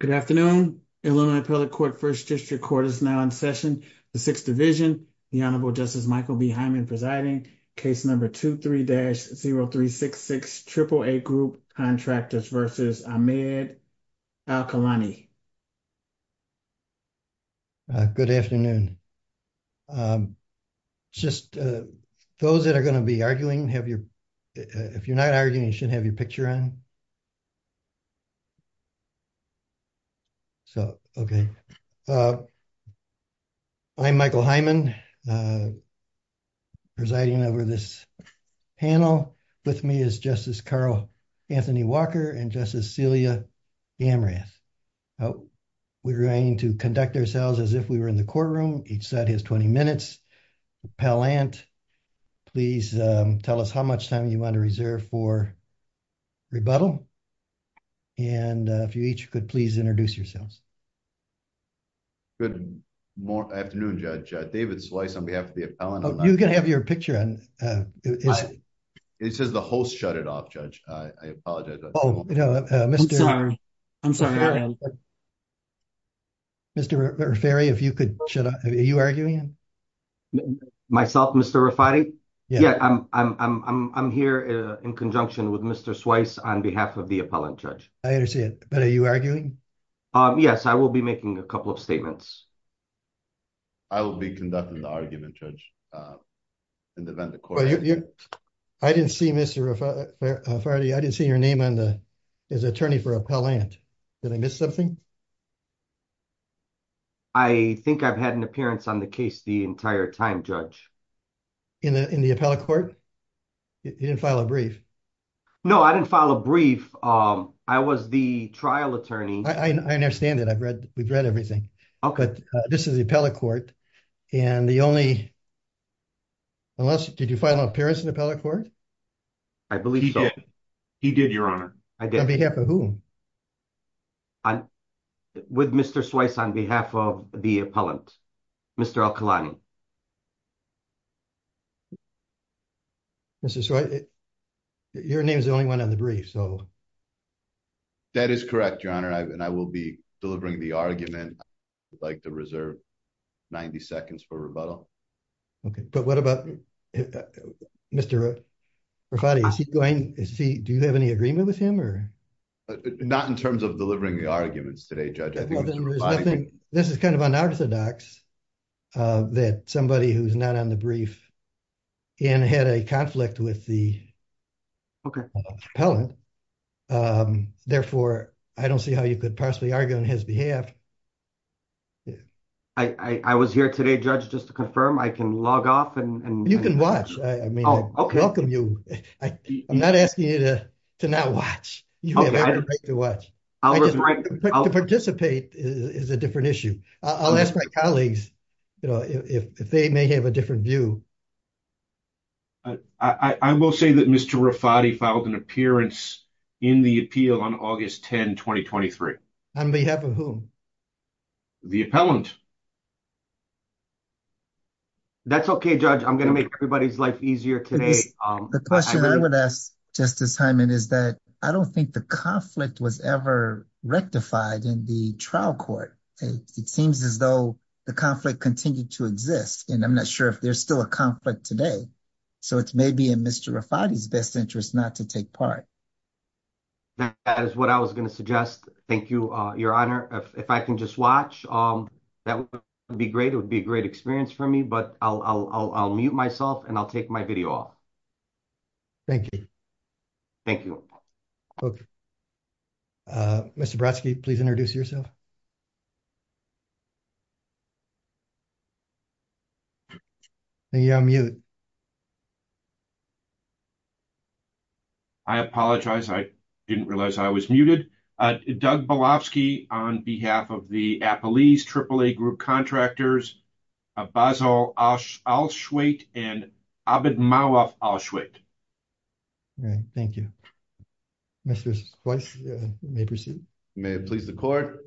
Good afternoon. Illinois Appellate Court First District Court is now in session. The Sixth Division, the Honorable Justice Michael B. Hyman presiding, case number 23-0366, Triple A Group Contractors v. Ahmed Alkilani. Good afternoon. Just those that are going to be arguing, if you're not arguing, you should have your picture on. So, okay. I'm Michael Hyman presiding over this panel. With me is Justice Carl Anthony Walker and Justice Celia Amrath. We're going to conduct ourselves as if we were in the courtroom. Each set has 20 minutes. Pellant, please tell us how much time you want to reserve for rebuttal. And if you each could please introduce yourselves. Good afternoon, Judge. David Slice on behalf of the appellant. You can have your picture on. It says the host shut it off, Judge. I apologize. Oh, no. Mr. I'm sorry. I'm sorry. Mr. Rafferri, if you could shut off. Are you arguing? Myself, Mr. Rafferri. Yeah, I'm here in conjunction with Mr. Slice on behalf of the appellant, Judge. I understand. But are you arguing? Yes, I will be making a couple of statements. I will be conducting the argument, Judge. I didn't see Mr. Rafferri. I didn't see your name on the his attorney for appellant. Did I miss something? I think I've had an appearance on the case the entire time, Judge. In the appellate court? You didn't file a brief? No, I didn't file a brief. I was the trial attorney. I understand that. I've read. We've read everything. OK. But this is the appellate court. And the only. Unless did you file an appearance in the appellate court? I believe he did, Your Honor. I did. On behalf of whom? I'm with Mr. Slice on behalf of the appellant, Mr. Al-Khulani. Mr. Slice, your name is the only one on the brief, so. That is correct, Your Honor. And I will be delivering the argument. I would like to reserve 90 seconds for rebuttal. OK, but what about Mr. Rafferri? Is he going to see? Do you have any agreement with him or? Not in terms of delivering the arguments today, Judge. This is kind of unorthodox that somebody who's not on the brief and had a conflict with the appellant. Therefore, I don't see how you could possibly argue on his behalf. I was here today, Judge, just to confirm I can log off and. You can watch. I welcome you. I'm not asking you to not watch. I was right to participate is a different issue. I'll ask my colleagues, you know, if they may have a different view. I will say that Mr. Rafferri filed an appearance in the appeal on August 10, 2023. On behalf of whom? The appellant. That's OK, Judge, I'm going to make everybody's life easier today. The question I would ask Justice Hyman is that I don't think the conflict was ever rectified in the trial court. It seems as though the conflict continued to exist, and I'm not sure if there's still a conflict today. So it's maybe in Mr. Rafferri's best interest not to take part. That is what I was going to suggest. Thank you, Your Honor. If I can just watch, that would be great. It would be a great experience for me. But I'll mute myself and I'll take my video off. Thank you. Thank you. OK. Mr. Brodsky, please introduce yourself. Thank you, I'll mute. I apologize. I didn't realize I was muted. Doug Belofsky on behalf of the Appalese AAA Group Contractors, Basil Alshuwaite and Abedmawaf Alshuwaite. All right, thank you. Mr. Sloyce, you may proceed. May it please the court.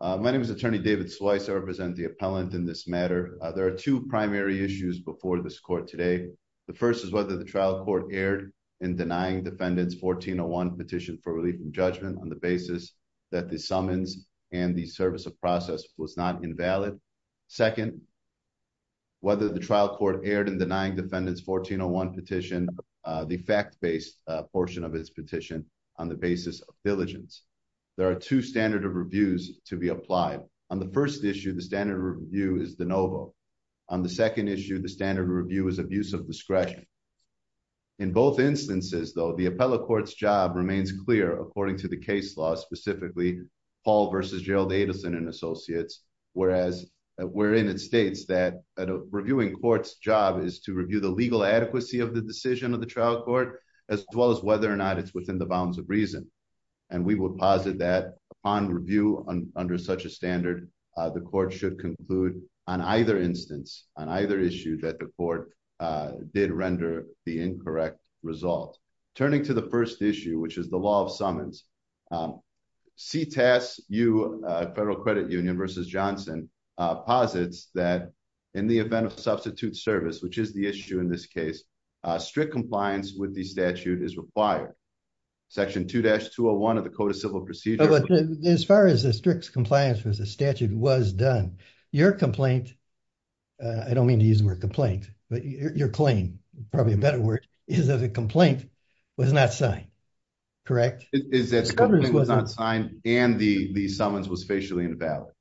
My name is Attorney David Sloyce. I represent the appellant in this matter. There are two primary issues before this court today. The first is whether the trial court erred in denying defendants 1401 petition for relief and judgment on the basis that the summons and the service of process was not invalid. Second, whether the trial court erred in denying defendants 1401 petition the fact-based portion of its petition on the basis of diligence. There are two standard of reviews to be applied. On the first issue, the standard review is de novo. On the second issue, the standard review is abuse of discretion. In both instances, though, the appellate court's job remains clear according to the case law, specifically, Paul versus Gerald Adelson and Associates, whereas wherein it states that reviewing court's job is to review the legal adequacy of the decision of the trial court, as well as whether or not it's within the bounds of reason. And we will posit that on review under such a standard, the court should conclude on either instance, on either issue that the court did render the incorrect result. Turning to the first issue, which is the law of summons, CTAS, Federal Credit Union versus Johnson, posits that in the event of substitute service, which is the issue in this case, strict compliance with the statute is required. Section 2-201 of the Code of Civil Procedure. But as far as the strict compliance with the statute was done, your complaint, I don't mean to use the word complaint, but your claim, probably a better word, is that the complaint was not signed, correct? Is that the complaint was not signed and the summons was facially invalid.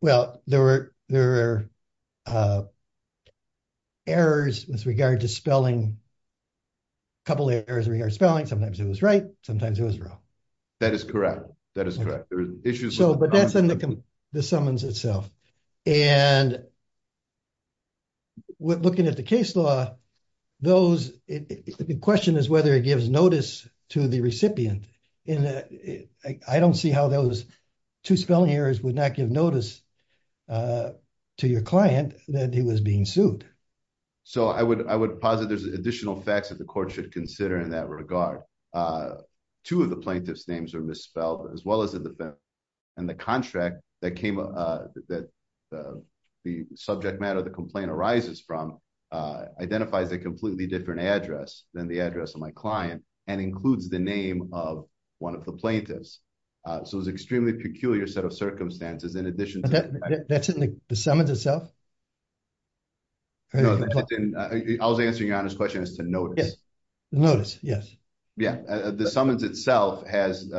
Well, there were errors with regard to spelling, a couple of errors with regard to spelling. Sometimes it was right, sometimes it was wrong. That is correct. That is correct. There were issues with the summons. But that's in the summons itself. And looking at the case law, those, the question is whether it gives notice to the recipient. And I don't see how those two spelling errors would not give notice to your client that he was being sued. So I would, I would posit there's additional facts that the court should consider in that regard. Two of the plaintiff's names are misspelled as well as the defendant. And the contract that came up, that the subject matter of the complaint arises from, identifies a completely different address than the address of my client and includes the name of one of the plaintiffs. So it was extremely peculiar set of circumstances in addition to that. That's in the summons itself? I was answering your honest question as to notice. Yes. Notice. Yes. Yeah. The summons itself has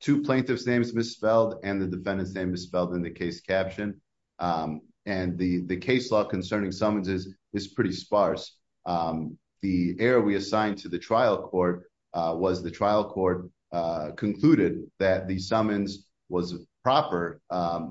two plaintiff's names misspelled and the defendant's name misspelled in the case caption. And the case law concerning summonses is pretty sparse. The error we assigned to the trial court was the trial court concluded that the summons was proper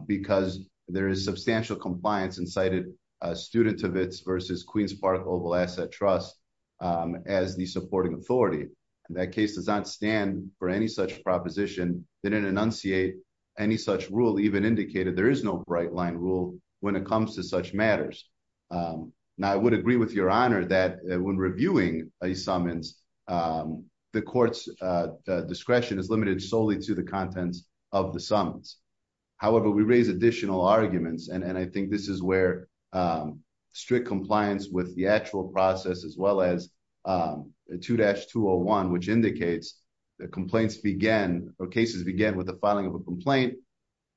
because there is substantial compliance and cited a student of its versus Queens Park Oval Asset Trust as the supporting authority. That case does not stand for any such proposition. They didn't enunciate any such rule, even indicated there is no bright line rule when it comes to such matters. Now, I would agree with your honor that when reviewing a summons, the court's discretion is limited solely to the contents of the summons. However, we raise additional arguments. And I think this is where strict compliance with the actual process, as well as 2-201, which indicates the complaints began or cases began with the filing of a complaint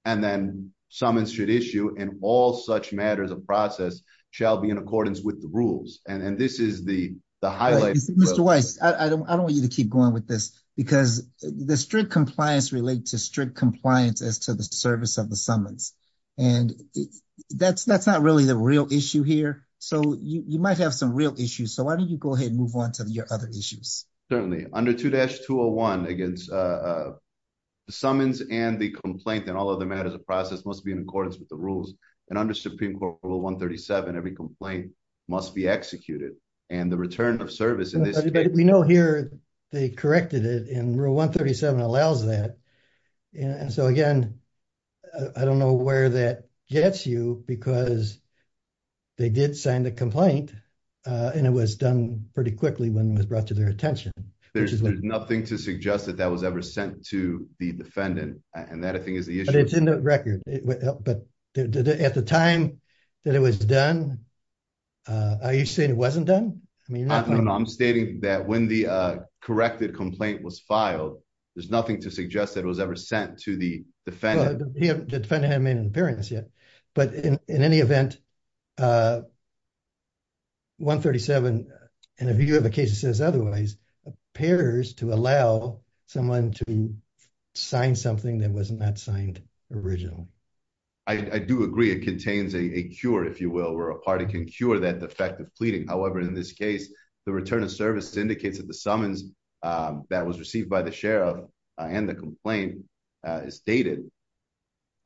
and then summons should issue and all such matters of process shall be in accordance with the rules. And this is the highlight. Mr. Weiss, I don't want you to keep going with this because the strict compliance relate to strict compliance as to the service of the summons. And that's not really the real issue here. So you might have some real issues. So why don't you go ahead and move on to your other issues? Certainly, under 2-201 against summons and the complaint and all other matters of process must be in accordance with the rules. And under Supreme Court Rule 137, every complaint must be executed and the return of service in this case- But we know here they corrected it and Rule 137 allows that. And so again, I don't know where that gets you because they did sign the complaint and it was done pretty quickly when it was brought to their attention. There's nothing to suggest that that was ever sent to the defendant. And that, I think, is the issue. But it's in the record. But at the time that it was done, are you saying it wasn't done? I mean, you're not- I'm stating that when the corrected complaint was filed, there's nothing to suggest that it was ever sent to the defendant. Well, the defendant hadn't made an appearance yet. But in any event, 137, and if you have a case that says otherwise, appears to allow someone to sign something that was not signed originally. I do agree. It contains a cure, if you will, where a party can cure that defective pleading. However, in this case, the return of service indicates that the summons that was received by the sheriff and the complaint is dated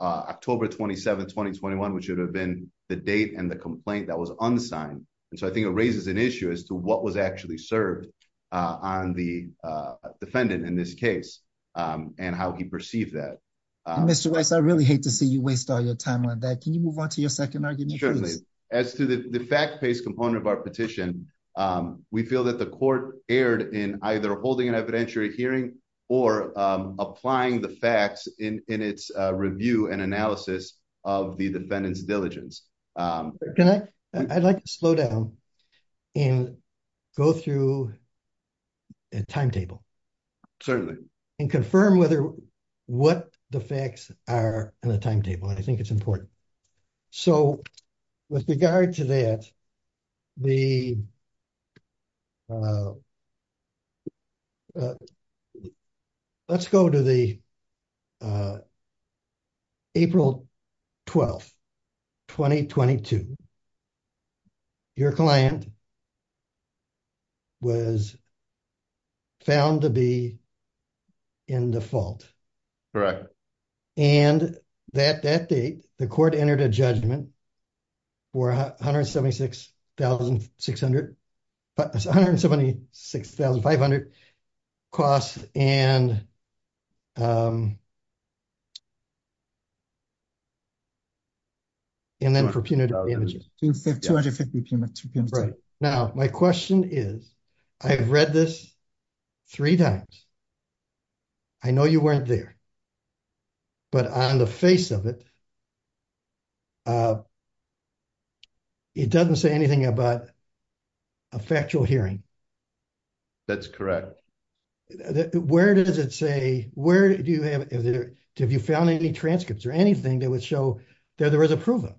October 27, 2021, which would have been the date and the complaint that was unsigned. And so I think it raises an issue as to what was actually served on the defendant in this case and how he perceived that. Mr. Weiss, I really hate to see you waste all your time on that. Can you move on to your second argument? As to the fact-based component of our petition, we feel that the court erred in either holding an evidentiary hearing or applying the facts in its review and analysis of the defendant's diligence. I'd like to slow down and go through a timetable. Certainly. And confirm what the facts are in the timetable. I think it's important. So with regard to that, let's go to the April 12, 2022. Your client was found to be in default. And that date, the court entered a judgment for $176,500 costs and and then for punitive damages. $250,000. Now, my question is, I've read this three times. I know you weren't there. But on the face of it, it doesn't say anything about a factual hearing. That's correct. Where does it say, have you found any transcripts or anything that would show that there was a proven?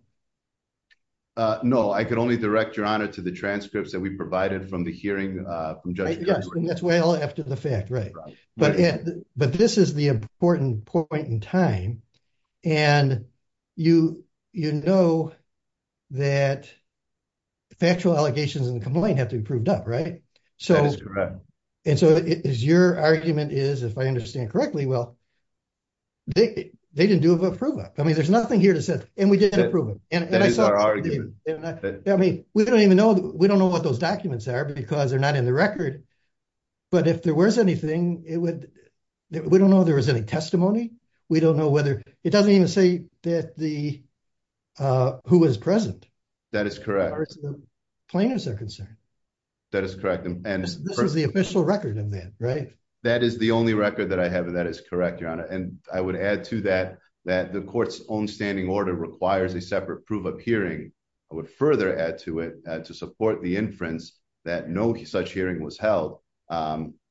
No, I could only direct your honor to the transcripts that we provided from the hearing. That's well after the fact, right? But this is the important point in time. And you know that factual allegations in the complaint have to be proved up, right? So, and so it is your argument is, if I understand correctly, well, they didn't do have a proven. I mean, there's nothing here to say. And we didn't approve it. That is our argument. I mean, we don't even know, we don't know what those documents are because they're not in the record. But if there was anything, it would, we don't know if there was any testimony. We don't know whether, it doesn't even say that the, who was present. That is correct. Plaintiffs are concerned. That is correct. And this is the official record of that, right? That is the only record that I have. And that is correct, your honor. And I would add to that, that the court's own standing order requires a separate proof of hearing. I would further add to it to support the inference that no such hearing was held.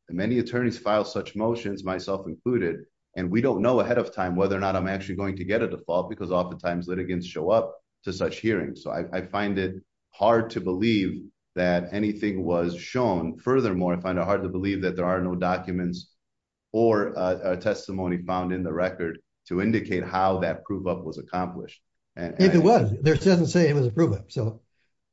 Many attorneys file such motions, myself included. And we don't know ahead of time whether or not I'm actually going to get a default because oftentimes litigants show up to such hearings. So I find it hard to believe that anything was shown. Furthermore, I find it hard to believe that there are no documents or a testimony found in the record to indicate how that proof up was accomplished. If it was, it doesn't say it was a proof up. So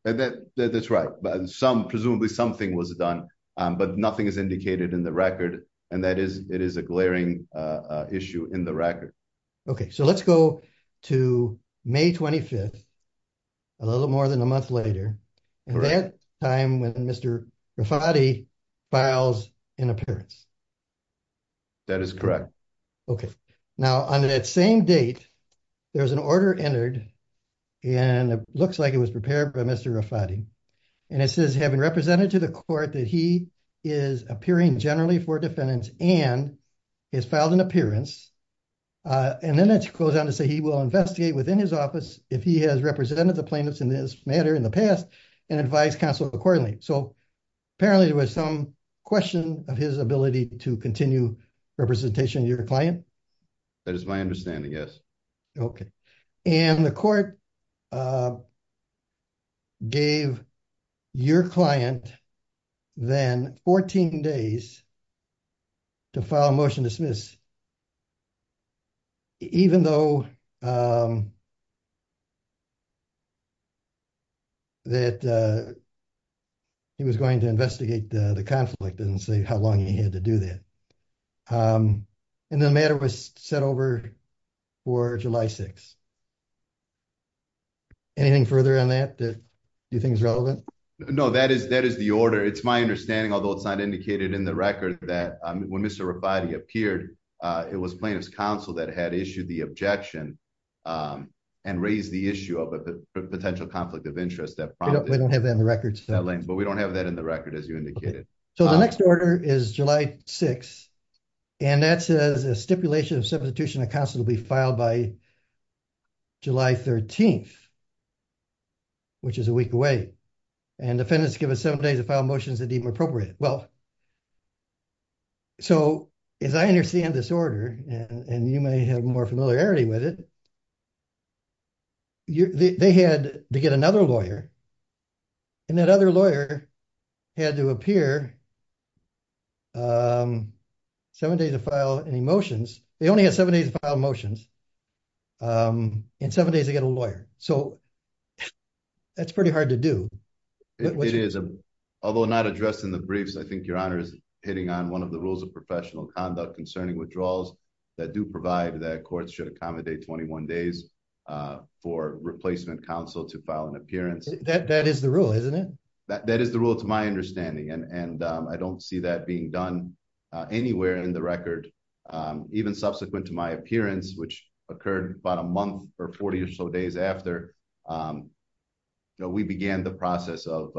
that's right. But some, presumably something was done, but nothing is indicated in the record. And that is, it is a glaring issue in the record. Okay, so let's go to May 25th, a little more than a month later. That time when Mr. Rafati files an appearance. That is correct. Okay, now on that same date, there was an order entered and it looks like it was prepared by Mr. Rafati. And it says, having represented to the court that he is appearing generally for defendants and has filed an appearance. And then it goes on to say, he will investigate within his office if he has represented the plaintiffs in this matter in the past and advise counsel accordingly. So apparently there was some question of his ability to continue representation of your client. That is my understanding, yes. Okay, and the court gave your client then 14 days to file a motion to dismiss, even though that he was going to investigate the conflict and say how long he had to do that. And the matter was set over for July 6th. Anything further on that that you think is relevant? No, that is the order. It's my understanding, although it's not indicated in the record that when Mr. Rafati appeared, it was plaintiff's counsel that had issued the objection and raised the issue of a potential conflict of interest. We don't have that in the records. But we don't have that in the record as you indicated. So the next order is July 6th. And that says a stipulation of substitution of counsel will be filed by July 13th, which is a week away. And defendants give us seven days to file motions that deem appropriate. Well, so as I understand this order, and you may have more familiarity with it, they had to get another lawyer. And that other lawyer had to appear seven days to file any motions. They only had seven days to file motions. In seven days, they get a lawyer. So that's pretty hard to do. Although not addressed in the briefs, I think your honor is hitting on one of the rules of professional conduct concerning withdrawals that do provide that courts should accommodate 21 days for replacement counsel to file an appearance. That is the rule, isn't it? That is the rule to my understanding. And I don't see that being done anywhere in the record. Even subsequent to my appearance, which occurred about a month or 40 or so days after, we began the process of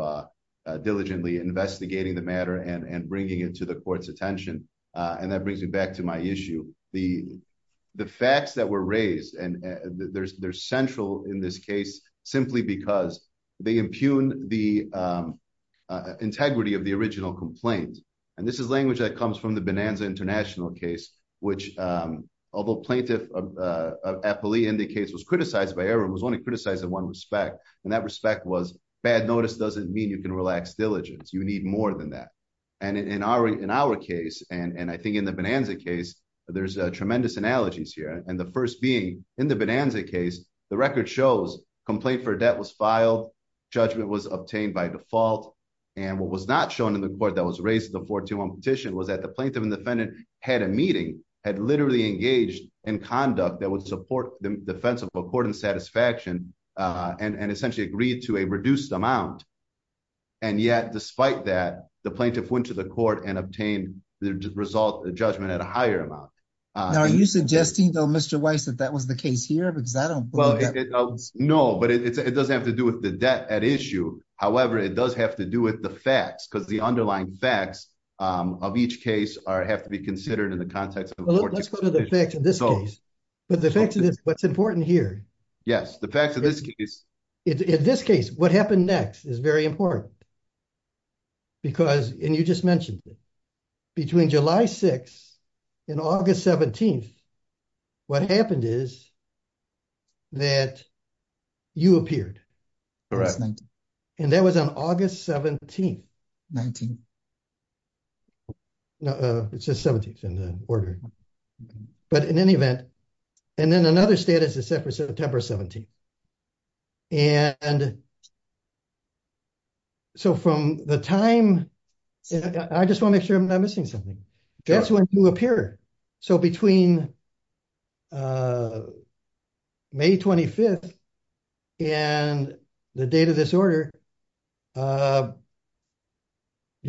diligently investigating the matter and bringing it to the court's attention. And that brings me back to my issue. The facts that were raised, and they're central in this case, simply because they impugn the integrity of the original complaint. And this is language that comes from the Bonanza International case, which although plaintiff Apolli indicates was criticized by everyone, was only criticized in one respect. And that respect was bad notice doesn't mean you can relax diligence. You need more than that. And in our case, and I think in the Bonanza case, there's tremendous analogies here. And the first being in the Bonanza case, the record shows complaint for debt was filed. Judgment was obtained by default. And what was not shown in the court that was raised in the 14-1 petition was that the plaintiff and defendant had a meeting, had literally engaged in conduct that would support the defense of a court in satisfaction and essentially agreed to a reduced amount. And yet, despite that, the plaintiff went to the court and obtained the result of the judgment at a higher amount. Now, are you suggesting though, Mr. Weiss, that that was the case here? Well, no, but it doesn't have to do with the debt at issue. However, it does have to do with the facts because the underlying facts of each case have to be considered in the context of the court. Let's go to the facts of this case. But the facts of this, what's important here. Yes, the facts of this case. In this case, what happened next is very important because, and you just mentioned it, between July 6th and August 17th, what happened is that you appeared. And that was on August 17th. 19th. No, it's the 17th in the order. But in any event, and then another status is set for September 17th. And so from the time, I just wanna make sure I'm not missing something. That's when you appear. So between May 25th and the date of this order, your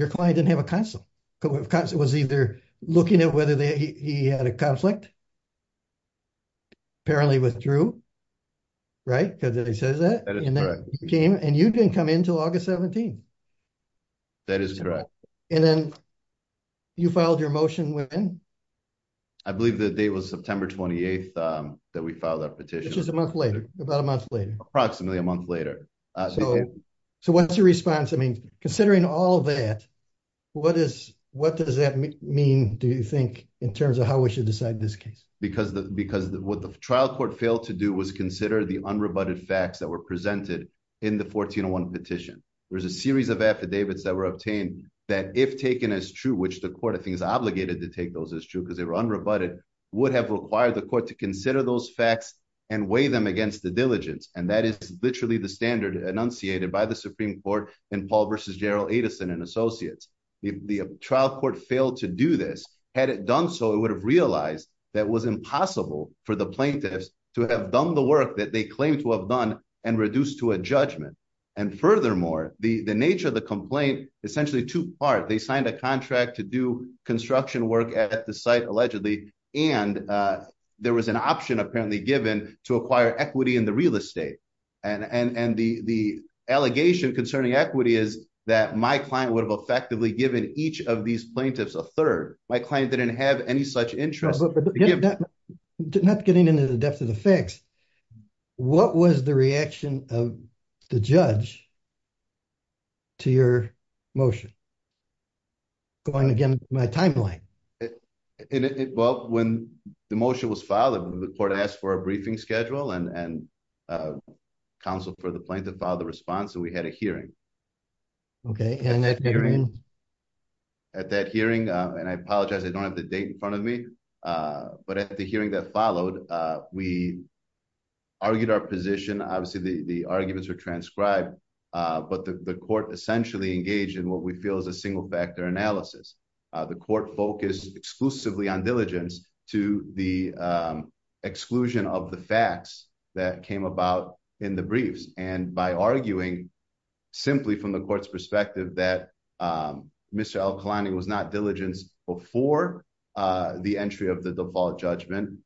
client didn't have a consult. Because it was either looking at whether he had a conflict, apparently withdrew, right? Because he says that. That is correct. And you didn't come in till August 17th. That is correct. And then you filed your motion when? I believe the date was September 28th that we filed that petition. Which is a month later, about a month later. Approximately a month later. So what's your response? I mean, considering all that, what does that mean, do you think, in terms of how we should decide this case? Because what the trial court failed to do was consider the unrebutted facts that were presented in the 1401 petition. There was a series of affidavits that were obtained if taken as true, which the court, I think, is obligated to take those as true because they were unrebutted, would have required the court to consider those facts and weigh them against the diligence. And that is literally the standard enunciated by the Supreme Court in Paul v. Gerald Edison and Associates. If the trial court failed to do this, had it done so, it would have realized that it was impossible for the plaintiffs to have done the work that they claimed to have done and reduced to a judgment. And furthermore, the nature of the complaint essentially two-part. They signed a contract to do construction work at the site, allegedly, and there was an option apparently given to acquire equity in the real estate. And the allegation concerning equity is that my client would have effectively given each of these plaintiffs a third. My client didn't have any such interest. Not getting into the depth of the facts, what was the reaction of the judge to your motion? Going again to my timeline. Well, when the motion was filed, the court asked for a briefing schedule and counseled for the plaintiff to file the response. So we had a hearing. Okay, and at that hearing, At that hearing, and I apologize, I don't have the date in front of me, but at the hearing that followed, we argued our position. Obviously, the arguments were transcribed. But the court essentially engaged in what we feel is a single factor analysis. The court focused exclusively on diligence to the exclusion of the facts that came about in the briefs. And by arguing simply from the court's perspective that Mr. Al-Khalani was not diligent before the entry of the default judgment,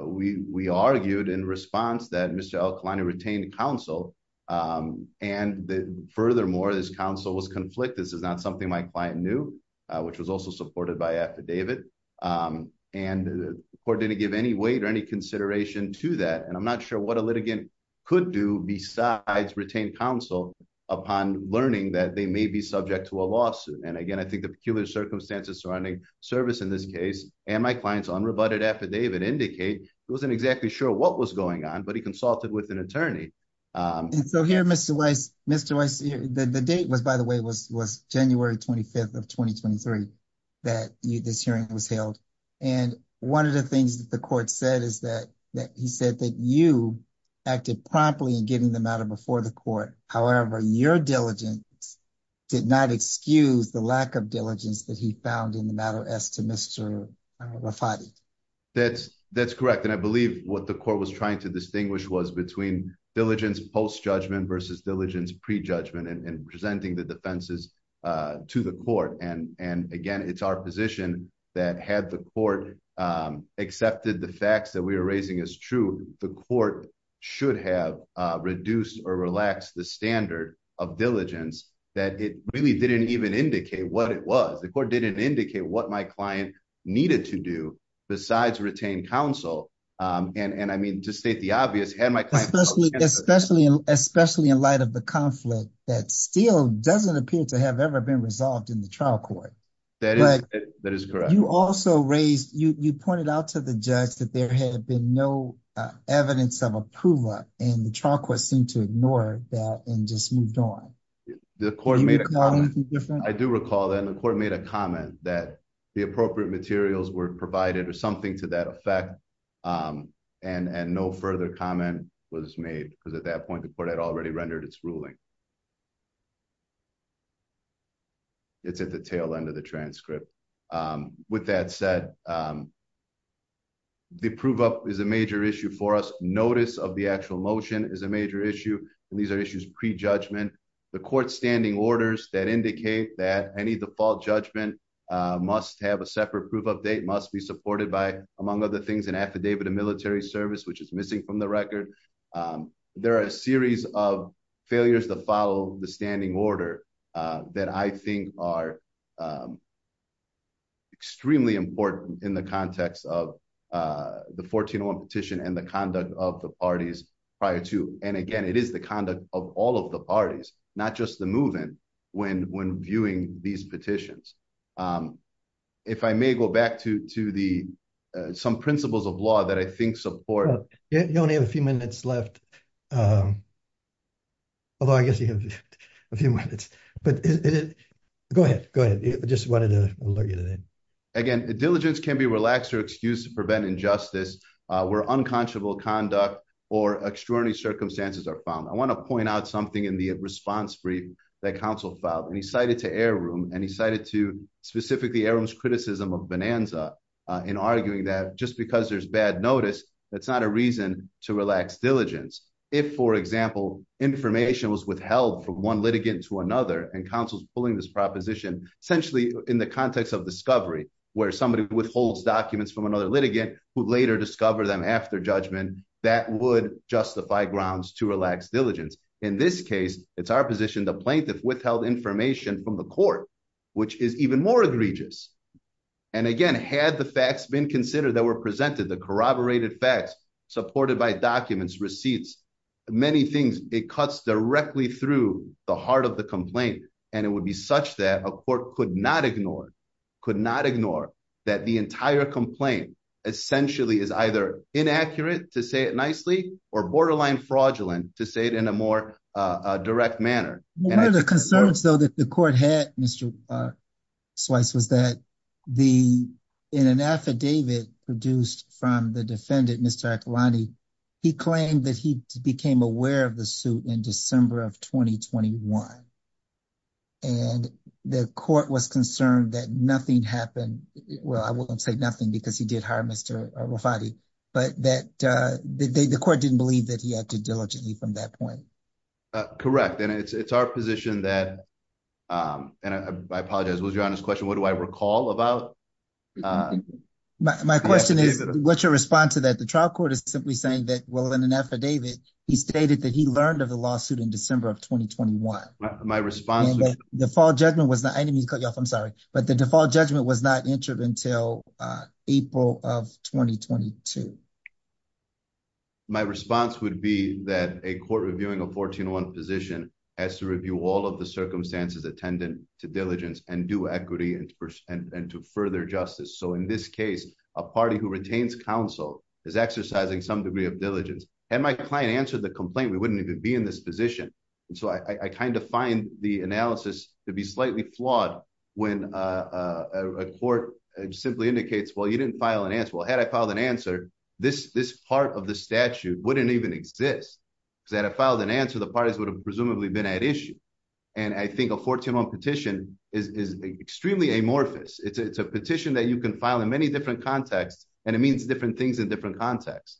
we argued in response that Mr. Al-Khalani retained counsel and furthermore, his counsel was conflicted. This is not something my client knew, which was also supported by affidavit. And the court didn't give any weight or any consideration to that. And I'm not sure what a litigant could do besides retain counsel upon learning that they may be subject to a lawsuit. And again, I think the peculiar circumstances surrounding service in this case and my client's unrebutted affidavit indicate he wasn't exactly sure what was going on, but he consulted with an attorney. And so here, Mr. Weiss, the date was, by the way, was January 25th of 2023 that this hearing was held. And one of the things that the court said is that he said that you acted promptly in getting the matter before the court. However, your diligence did not excuse the lack of diligence that he found in the matter as to Mr. Rafati. That's correct. And I believe what the court was trying to distinguish was between diligence post-judgment versus diligence pre-judgment and presenting the defenses to the court. And again, it's our position that had the court accepted the facts that we were raising as true, the court should have reduced or relaxed the standard of diligence that it really didn't even indicate what it was. The court didn't indicate what my client needed to do besides retain counsel. And I mean, to state the obvious, Especially in light of the conflict that still doesn't appear to have ever been resolved in the trial court. That is correct. You also raised, you pointed out to the judge that there had been no evidence of approval and the trial court seemed to ignore that and just moved on. I do recall that the court made a comment that the appropriate materials were provided or something to that effect. And no further comment was made because at that point the court had already rendered its ruling. It's at the tail end of the transcript. With that said, the prove up is a major issue for us. Notice of the actual motion is a major issue. And these are issues pre-judgment. The court standing orders that indicate that any default judgment must have a separate proof of date, must be supported by among other things an affidavit of military service, which is missing from the record. There are a series of failures to follow the standing order that I think are extremely important in the context of the 1401 petition and the conduct of the parties prior to. And again, it is the conduct of all of the parties, not just the movement when viewing these petitions. If I may go back to some principles of law that I think support. You only have a few minutes left. Although I guess you have a few minutes, but go ahead, go ahead. I just wanted to alert you to that. Again, diligence can be relaxed or excused to prevent injustice where unconscionable conduct or extraordinary circumstances are found. I wanna point out something in the response brief that counsel filed and he cited to Air Room and he cited to specifically Air Room's criticism of Bonanza in arguing that just because there's bad notice, that's not a reason to relax diligence. If for example, information was withheld from one litigant to another and counsel's pulling this proposition, essentially in the context of discovery where somebody withholds documents from another litigant who later discover them after judgment, that would justify grounds to relax diligence. In this case, it's our position the plaintiff withheld information from the court, which is even more egregious. And again, had the facts been considered that were presented, the corroborated facts supported by documents, receipts, many things, it cuts directly through the heart of the complaint. And it would be such that a court could not ignore, could not ignore that the entire complaint essentially is either inaccurate to say it nicely or borderline fraudulent to say it in a more direct manner. One of the concerns though that the court had Mr. Swyce was that in an affidavit produced from the defendant, Mr. Akilani, he claimed that he became aware of the suit in December of 2021. And the court was concerned that nothing happened. Well, I won't say nothing because he did hire Mr. Rafati, but that the court didn't believe that he acted diligently from that point. Correct. And it's our position that, and I apologize, it was your honest question, what do I recall about? My question is, what's your response to that? The trial court is simply saying that, well, in an affidavit, he stated that he learned of the lawsuit in December of 2021. My response- And the default judgment was not, I didn't mean to cut you off, I'm sorry, but the default judgment was not entered until April of 2022. My response would be that a court reviewing a 14-1 position has to review all of the circumstances attendant to diligence and do equity and to further justice. So in this case, a party who retains counsel is exercising some degree of diligence. Had my client answered the complaint, we wouldn't even be in this position. And so I kind of find the analysis to be slightly flawed when a court simply indicates, well, you didn't file an answer. Well, had I filed an answer, this part of the statute wouldn't even exist because had I filed an answer, the parties would have presumably been at issue. And I think a 14-1 petition is extremely amorphous. It's a petition that you can file in many different contexts, and it means different things in different contexts.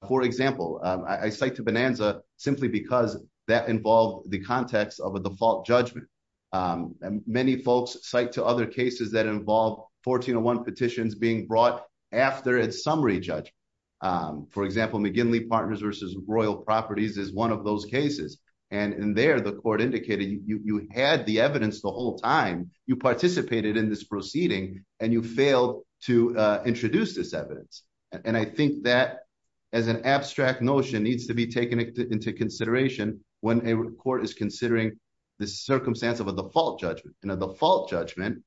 For example, I cite to Bonanza simply because that involved the context of a default judgment. Many folks cite to other cases that involve 14-1 petitions being brought after its summary judgment. For example, McGinley Partners versus Royal Properties is one of those cases. And in there, the court indicated you had the evidence the whole time, you participated in this proceeding, and you failed to introduce this evidence. And I think that as an abstract notion needs to be taken into consideration when a court is considering the circumstance of a default judgment. In a default judgment,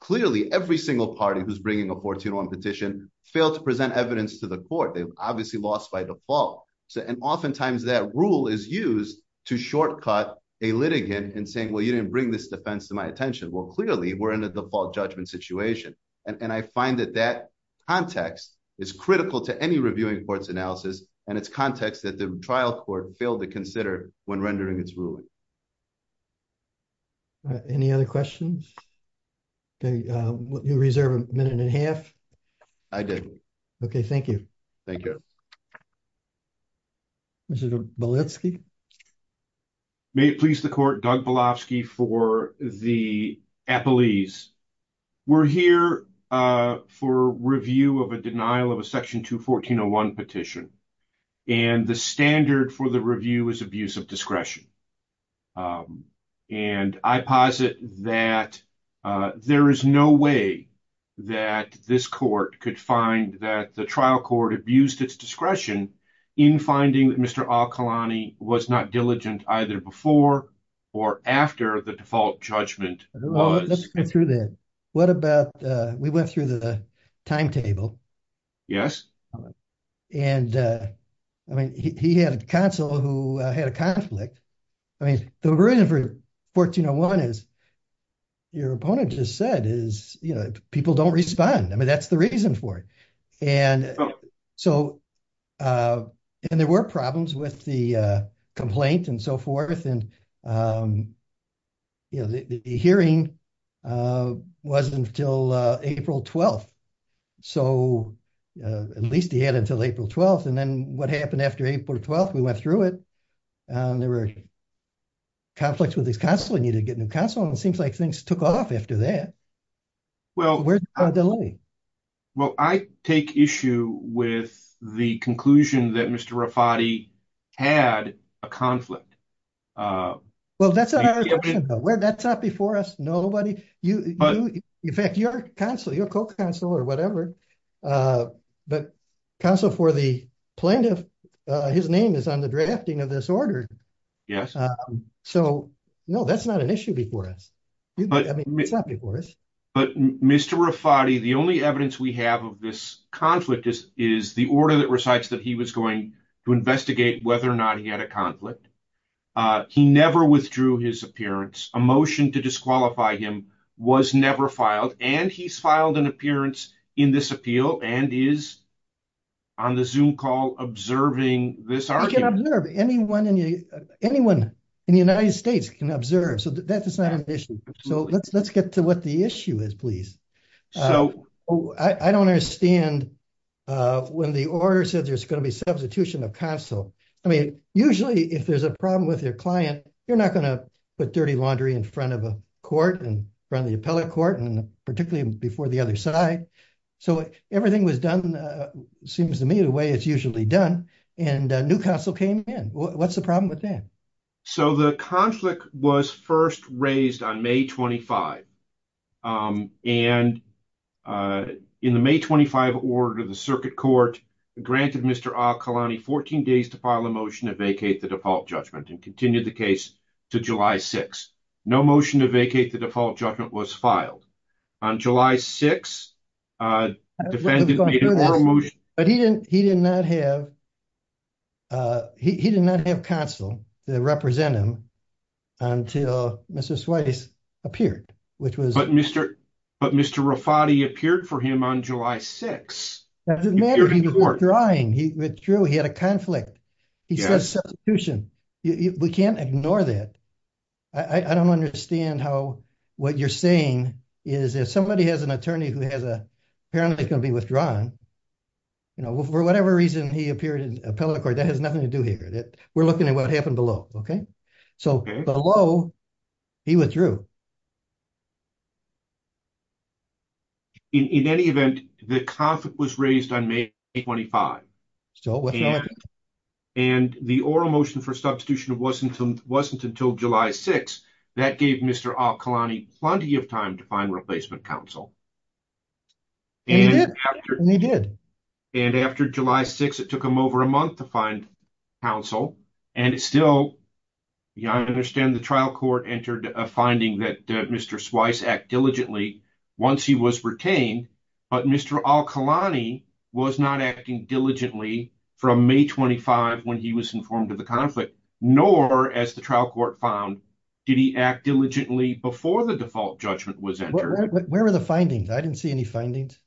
clearly every single party who's bringing a 14-1 petition failed to present evidence to the court. They've obviously lost by default. And oftentimes that rule is used to shortcut a litigant in saying, well, you didn't bring this defense to my attention. Well, clearly we're in a default judgment situation. And I find that that context is critical to any reviewing court's analysis, and it's context that the trial court failed to consider when rendering its ruling. All right, any other questions? Okay, you reserve a minute and a half. I did. Okay, thank you. Thank you. Mr. Balitsky? May it please the court, Doug Balitsky for the appellees. We're here for review of a denial of a section 214-01 petition. And the standard for the review is abuse of discretion. And I posit that there is no way that this court could find that the trial court abused its discretion in finding that Mr. Al-Khalani was not diligent either before or after the default judgment was. Let's get through that. What about, we went through the timetable. Yes. And I mean, he had a counsel who had a conflict. I mean, the reason for 1401 is your opponent just said is, you know, people don't respond. I mean, that's the reason for it. And so, and there were problems with the complaint and so forth. And, you know, the hearing wasn't until April 12th. So, at least he had until April 12th. And then what happened after April 12th, we went through it. There were conflicts with his counsel. He needed to get a new counsel. And it seems like things took off after that. Well, where's the delay? Well, I take issue with the conclusion that Mr. Rafati had a conflict. Well, that's not before us. Nobody, in fact, your counsel, your co-counsel or whatever, but counsel for the plaintiff, his name is on the drafting of this order. Yes. So, no, that's not an issue before us. But Mr. Rafati, the only evidence we have of this conflict is the order that recites that he was going to investigate whether or not he had a conflict. He never withdrew his appearance. A motion to disqualify him was never filed. And he's filed an appearance in this appeal and is on the Zoom call observing this argument. Anyone in the United States can observe. So, that's not an issue. So, let's get to what the issue is, please. I don't understand when the order said there's going to be substitution of counsel. I mean, usually if there's a problem with your client, you're not going to put dirty laundry in front of a court and front of the appellate court, and particularly before the other side. So, everything was done, seems to me the way it's usually done. And a new counsel came in. What's the problem with that? So, the conflict was first raised on May 25. And in the May 25 order, the circuit court granted Mr. Al-Khulani 14 days to file a motion to vacate the default judgment and continue the case to July 6. No motion to vacate the default judgment was filed. On July 6, the defendant made a motion. But he did not have counsel to represent him until Mr. Swayze appeared. But Mr. Rafati appeared for him on July 6. It doesn't matter, he withdrew, he had a conflict. He says substitution. We can't ignore that. I don't understand how what you're saying is if somebody has an attorney who apparently is going to be withdrawn, you know, for whatever reason, he appeared in appellate court, that has nothing to do here. We're looking at what happened below, okay? So, below, he withdrew. So, in any event, the conflict was raised on May 25. So, what happened? And the oral motion for substitution wasn't until July 6. That gave Mr. Al-Khulani plenty of time to find replacement counsel. He did, he did. And after July 6, it took him over a month to find counsel. And it's still, I understand the trial court entered a finding that Mr. Swise acted diligently once he was retained. But Mr. Al-Khulani was not acting diligently from May 25 when he was informed of the conflict. Nor, as the trial court found, did he act diligently before the default judgment was entered. Where are the findings? I didn't see any findings.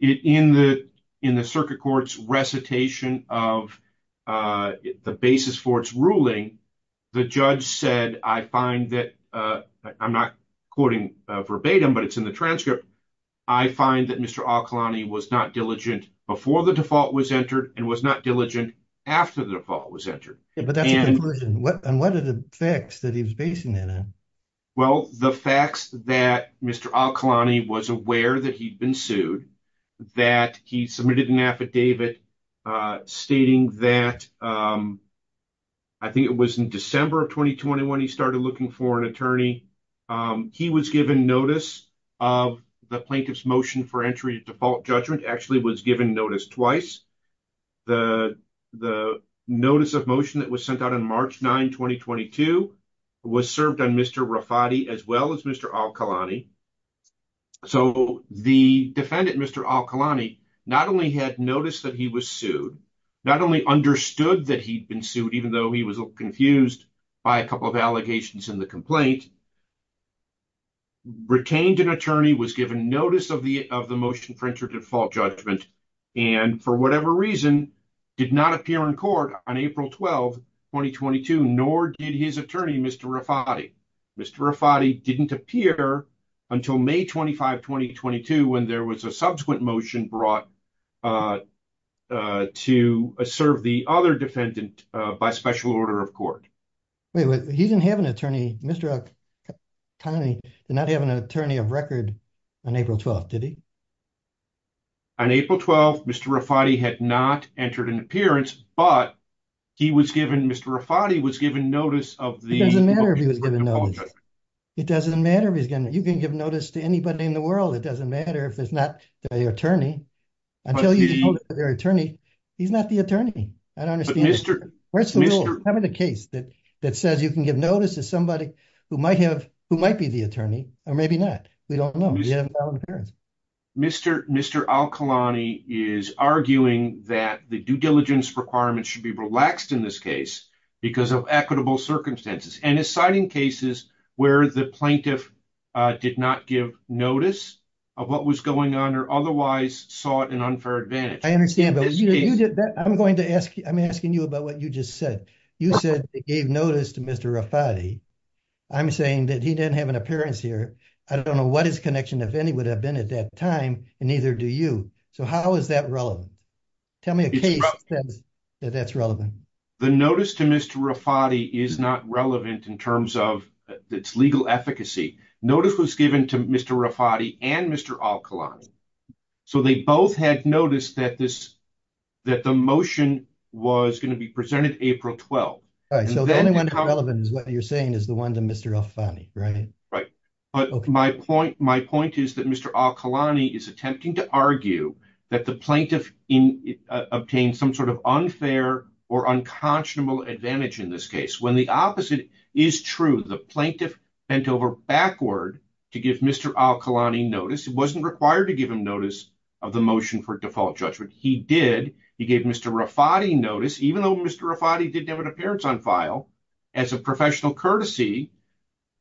In the circuit court's recitation of the basis for its ruling, the judge said, I find that, I'm not quoting verbatim, but it's in the transcript. I find that Mr. Al-Khulani was not diligent before the default was entered and was not diligent after the default was entered. Yeah, but that's a conversion. And what are the facts that he was basing that on? Well, the facts that Mr. Al-Khulani was aware that he'd been sued, that he submitted an affidavit stating that, I think it was in December of 2021, he started looking for an attorney. He was given notice of the plaintiff's motion for entry to default judgment actually was given notice twice. The notice of motion that was sent out on March 9, 2022 was served on Mr. Rafati as well as Mr. Al-Khulani. So the defendant, Mr. Al-Khulani, not only had noticed that he was sued, not only understood that he'd been sued, even though he was confused by a couple of allegations in the complaint, retained an attorney, was given notice of the motion for entry to default judgment, and for whatever reason, did not appear in court on April 12, 2022, nor did his attorney, Mr. Rafati. Mr. Rafati didn't appear until May 25, 2022, when there was a subsequent motion brought to serve the other defendant by special order of court. Wait, he didn't have an attorney, Mr. Al-Khulani did not have an attorney of record on April 12th, did he? On April 12th, Mr. Rafati had not entered an appearance, but he was given, Mr. Rafati was given notice of the- It doesn't matter if he was given notice. It doesn't matter if he's given, you can give notice to anybody in the world. It doesn't matter if it's not the attorney. Until you get their attorney, he's not the attorney. I don't understand it. Where's the rule? Having a case that says you can give notice to somebody who might be the attorney, or maybe not. We don't know, he didn't have an appearance. Mr. Al-Khulani is arguing that the due diligence requirement should be relaxed in this case because of equitable circumstances. And he's citing cases where the plaintiff did not give notice of what was going on, otherwise sought an unfair advantage. I understand, but I'm asking you about what you just said. You said they gave notice to Mr. Rafati. I'm saying that he didn't have an appearance here. I don't know what his connection, if any, would have been at that time, and neither do you. So how is that relevant? Tell me a case that says that's relevant. The notice to Mr. Rafati is not relevant in terms of its legal efficacy. Notice was given to Mr. Rafati and Mr. Al-Khulani. So they both had noticed that the motion was going to be presented April 12th. All right, so the only one that's relevant is what you're saying is the one to Mr. Al-Khulani, right? Right, but my point is that Mr. Al-Khulani is attempting to argue that the plaintiff obtained some sort of unfair or unconscionable advantage in this case. When the opposite is true, the plaintiff bent over backward to give Mr. Al-Khulani notice. It wasn't required to give him notice of the motion for default judgment. He did. He gave Mr. Rafati notice, even though Mr. Rafati didn't have an appearance on file, as a professional courtesy,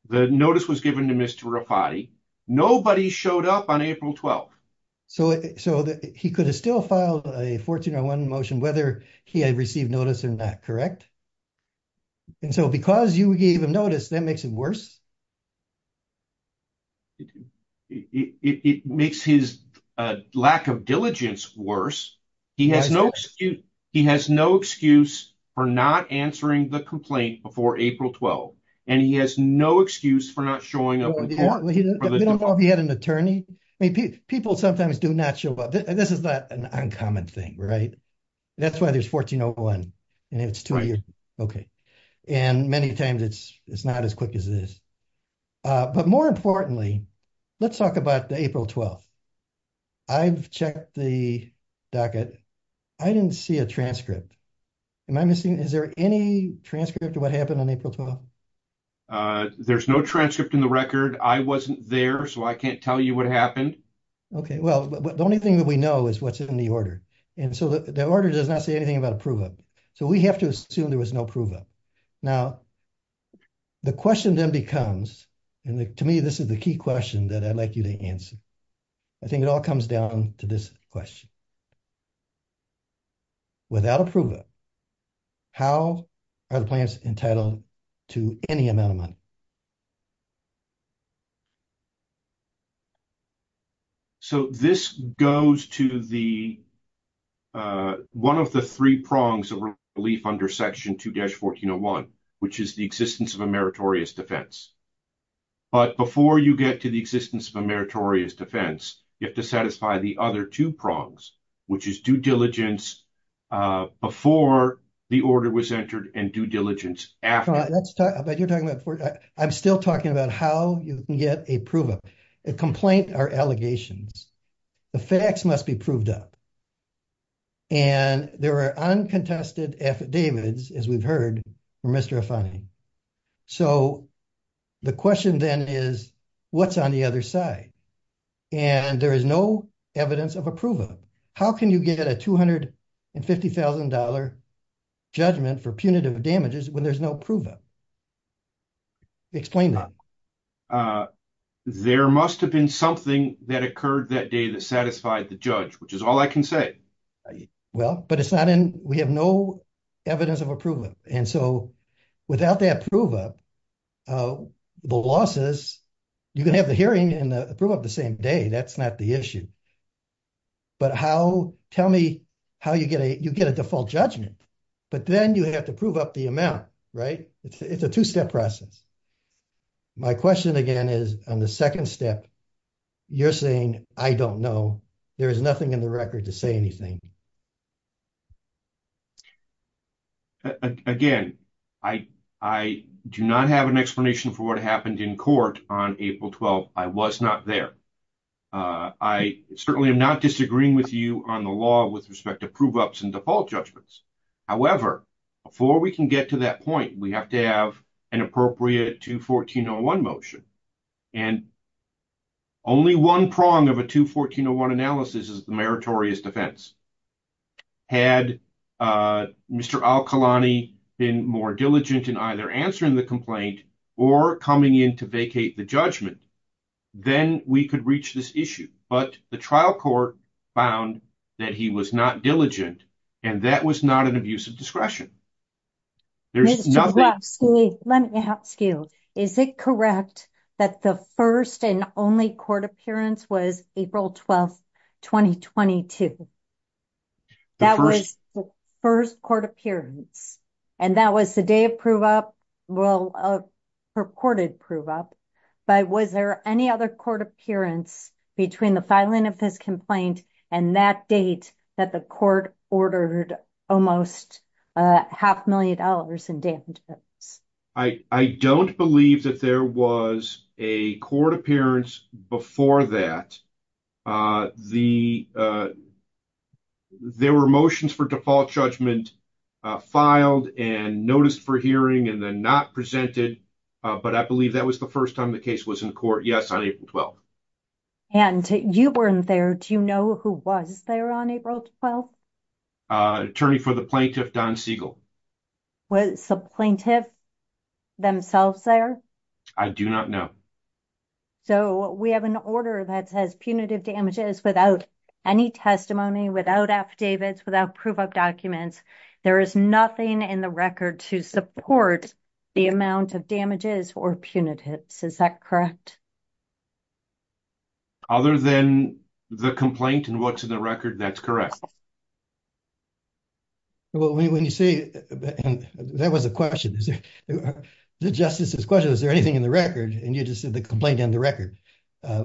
the notice was given to Mr. Rafati. Nobody showed up on April 12th. So he could have still filed a 1401 motion whether he had received notice or not, correct? And so because you gave him notice, that makes it worse? It makes his lack of diligence worse. He has no excuse for not answering the complaint before April 12th. And he has no excuse for not showing up in court. Well, he didn't know if he had an attorney. I mean, people sometimes do not show up. This is not an uncommon thing, right? That's why there's 1401, and it's two years. Okay, and many times it's not as quick as this. But more importantly, let's talk about the April 12th. I've checked the docket. I didn't see a transcript. Am I missing? Is there any transcript of what happened on April 12th? There's no transcript in the record. I wasn't there, so I can't tell you what happened. Okay, well, the only thing that we know is what's in the order. And so the order does not say anything about a prove-up. So we have to assume there was no prove-up. Now, the question then becomes, and to me, this is the key question that I'd like you to answer. I think it all comes down to this question. Without a prove-up, how are the plans entitled to any amount of money? So this goes to the, one of the three prongs of relief under section 2-1401, which is the existence of a meritorious defense. But before you get to the existence of a meritorious defense, you have to satisfy the other two prongs, which is due diligence before the order was entered and due diligence after. I'm still talking about how you can get a prove-up. A complaint are allegations. The facts must be proved up. And there are uncontested affidavits, as we've heard from Mr. Afani. So the question then is, what's on the other side? And there is no evidence of a prove-up. How can you get a $250,000 judgment for punitive damages when there's no prove-up? Explain that. There must have been something that occurred that day that satisfied the judge, which is all I can say. Well, but it's not in, we have no evidence of a prove-up. And so without that prove-up, the losses, you can have the hearing and the prove-up the same day. That's not the issue. But how, tell me how you get a, you get a default judgment, but then you have to prove up the amount, right? It's a two-step process. My question again is, on the second step, you're saying, I don't know. There is nothing in the record to say anything. Again, I do not have an explanation for what happened in court on April 12th. I was not there. I certainly am not disagreeing with you on the law with respect to prove-ups and default judgments. However, before we can get to that point, we have to have an appropriate 214-01 motion. And only one prong of a 214-01 analysis is the meritorious defense. Had Mr. Al-Khulani been more diligent in either answering the complaint or coming in to vacate the judgment, then we could reach this issue. But the trial court found that he was not diligent and that was not an abuse of discretion. There's nothing- Mr. Kravsky, let me ask you, is it correct that the first and only court appearance was April 12th, 2022? That was the first court appearance. And that was the day of prove-up, well, purported prove-up. But was there any other court appearance between the filing of this complaint and that date that the court ordered almost a half million dollars in damages? I don't believe that there was a court appearance before that. There were motions for default judgment filed and noticed for hearing and then not presented. But I believe that was the first time the case was in court, yes, on April 12th. And you weren't there. Do you know who was there on April 12th? Attorney for the plaintiff, Don Siegel. Was the plaintiff themselves there? I do not know. So we have an order that says punitive damages without any testimony, without affidavits, without prove-up documents. There is nothing in the record to support the amount of damages or punitives. Is that correct? Other than the complaint and what's in the record, that's correct. Well, when you say, and that was a question, is there, the justice's question, is there anything in the record? And you just said the complaint and the record.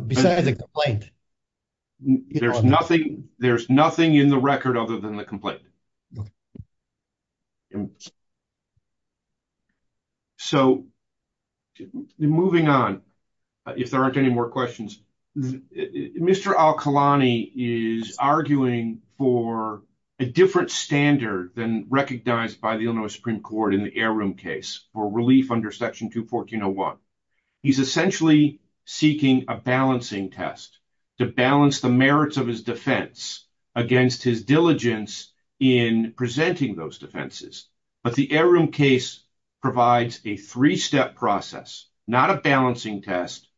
Besides the complaint. There's nothing in the record other than the complaint. Okay. So moving on, if there aren't any more questions, the, Mr. Al-Khulani is arguing for a different standard than recognized by the Illinois Supreme Court in the heirloom case for relief under section 214.01. He's essentially seeking a balancing test to balance the merits of his defense against his diligence in presenting those defenses. But the heirloom case provides a three-step process, not a balancing test,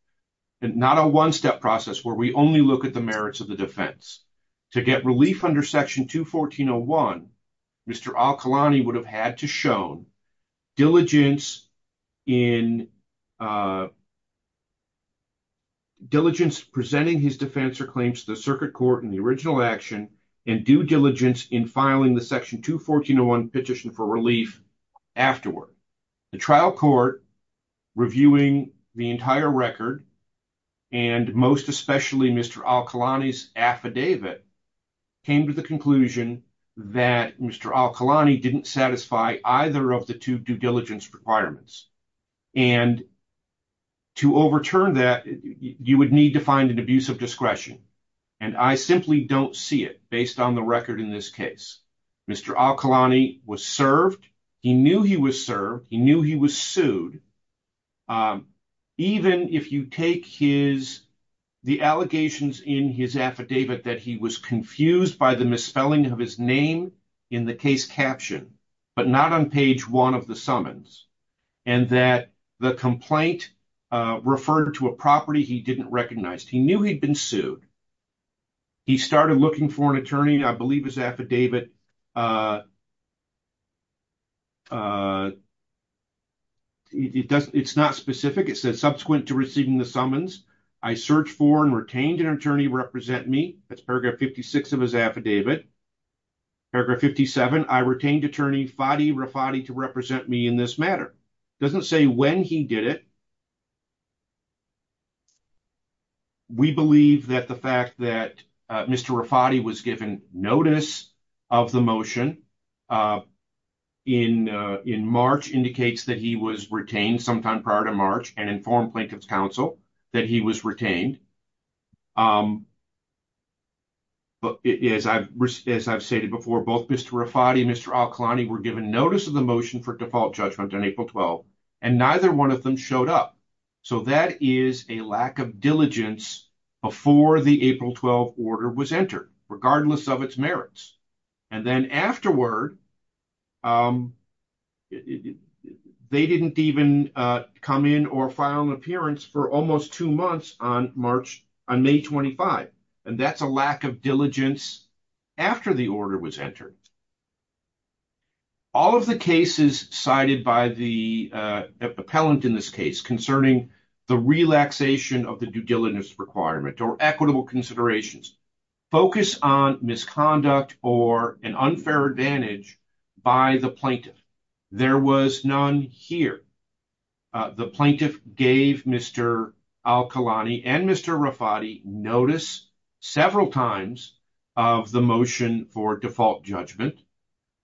and not a one-step process where we only look at the merits of the defense. To get relief under section 214.01, Mr. Al-Khulani would have had to shown diligence in, diligence presenting his defense or claims to the circuit court in the original action and due diligence in filing the section 214.01 petition for relief afterward. The trial court reviewing the entire record and most especially Mr. Al-Khulani's affidavit came to the conclusion that Mr. Al-Khulani didn't satisfy either of the two due diligence requirements. And to overturn that, you would need to find an abuse of discretion. And I simply don't see it based on the record in this case. Mr. Al-Khulani was served. He knew he was served. He knew he was sued. Even if you take his, the allegations in his affidavit that he was confused by the misspelling of his name in the case caption, but not on page one of the summons and that the complaint referred to a property he didn't recognize. He knew he'd been sued. He started looking for an attorney, I believe his affidavit it doesn't, it's not specific. It says subsequent to receiving the summons, I searched for and retained an attorney represent me. That's paragraph 56 of his affidavit. Paragraph 57, I retained attorney Fadi Rafati to represent me in this matter. It doesn't say when he did it. We believe that the fact that Mr. Rafati was given notice of the motion in March indicates that he was retained sometime prior to March and informed Plaintiff's counsel that he was retained. But as I've stated before, both Mr. Rafati and Mr. Al-Khulani were given notice of the motion for default judgment on April 12th and neither one of them showed up. So that is a lack of diligence before the April 12th order was entered, regardless of its merits. And then afterward, they didn't even come in or file an appearance for almost two months on May 25. And that's a lack of diligence after the order was entered. All of the cases cited by the appellant in this case concerning the relaxation of the due diligence requirement or equitable considerations, focus on misconduct or an unfair advantage by the plaintiff. There was none here. The plaintiff gave Mr. Al-Khulani and Mr. Rafati notice several times of the motion for default judgment.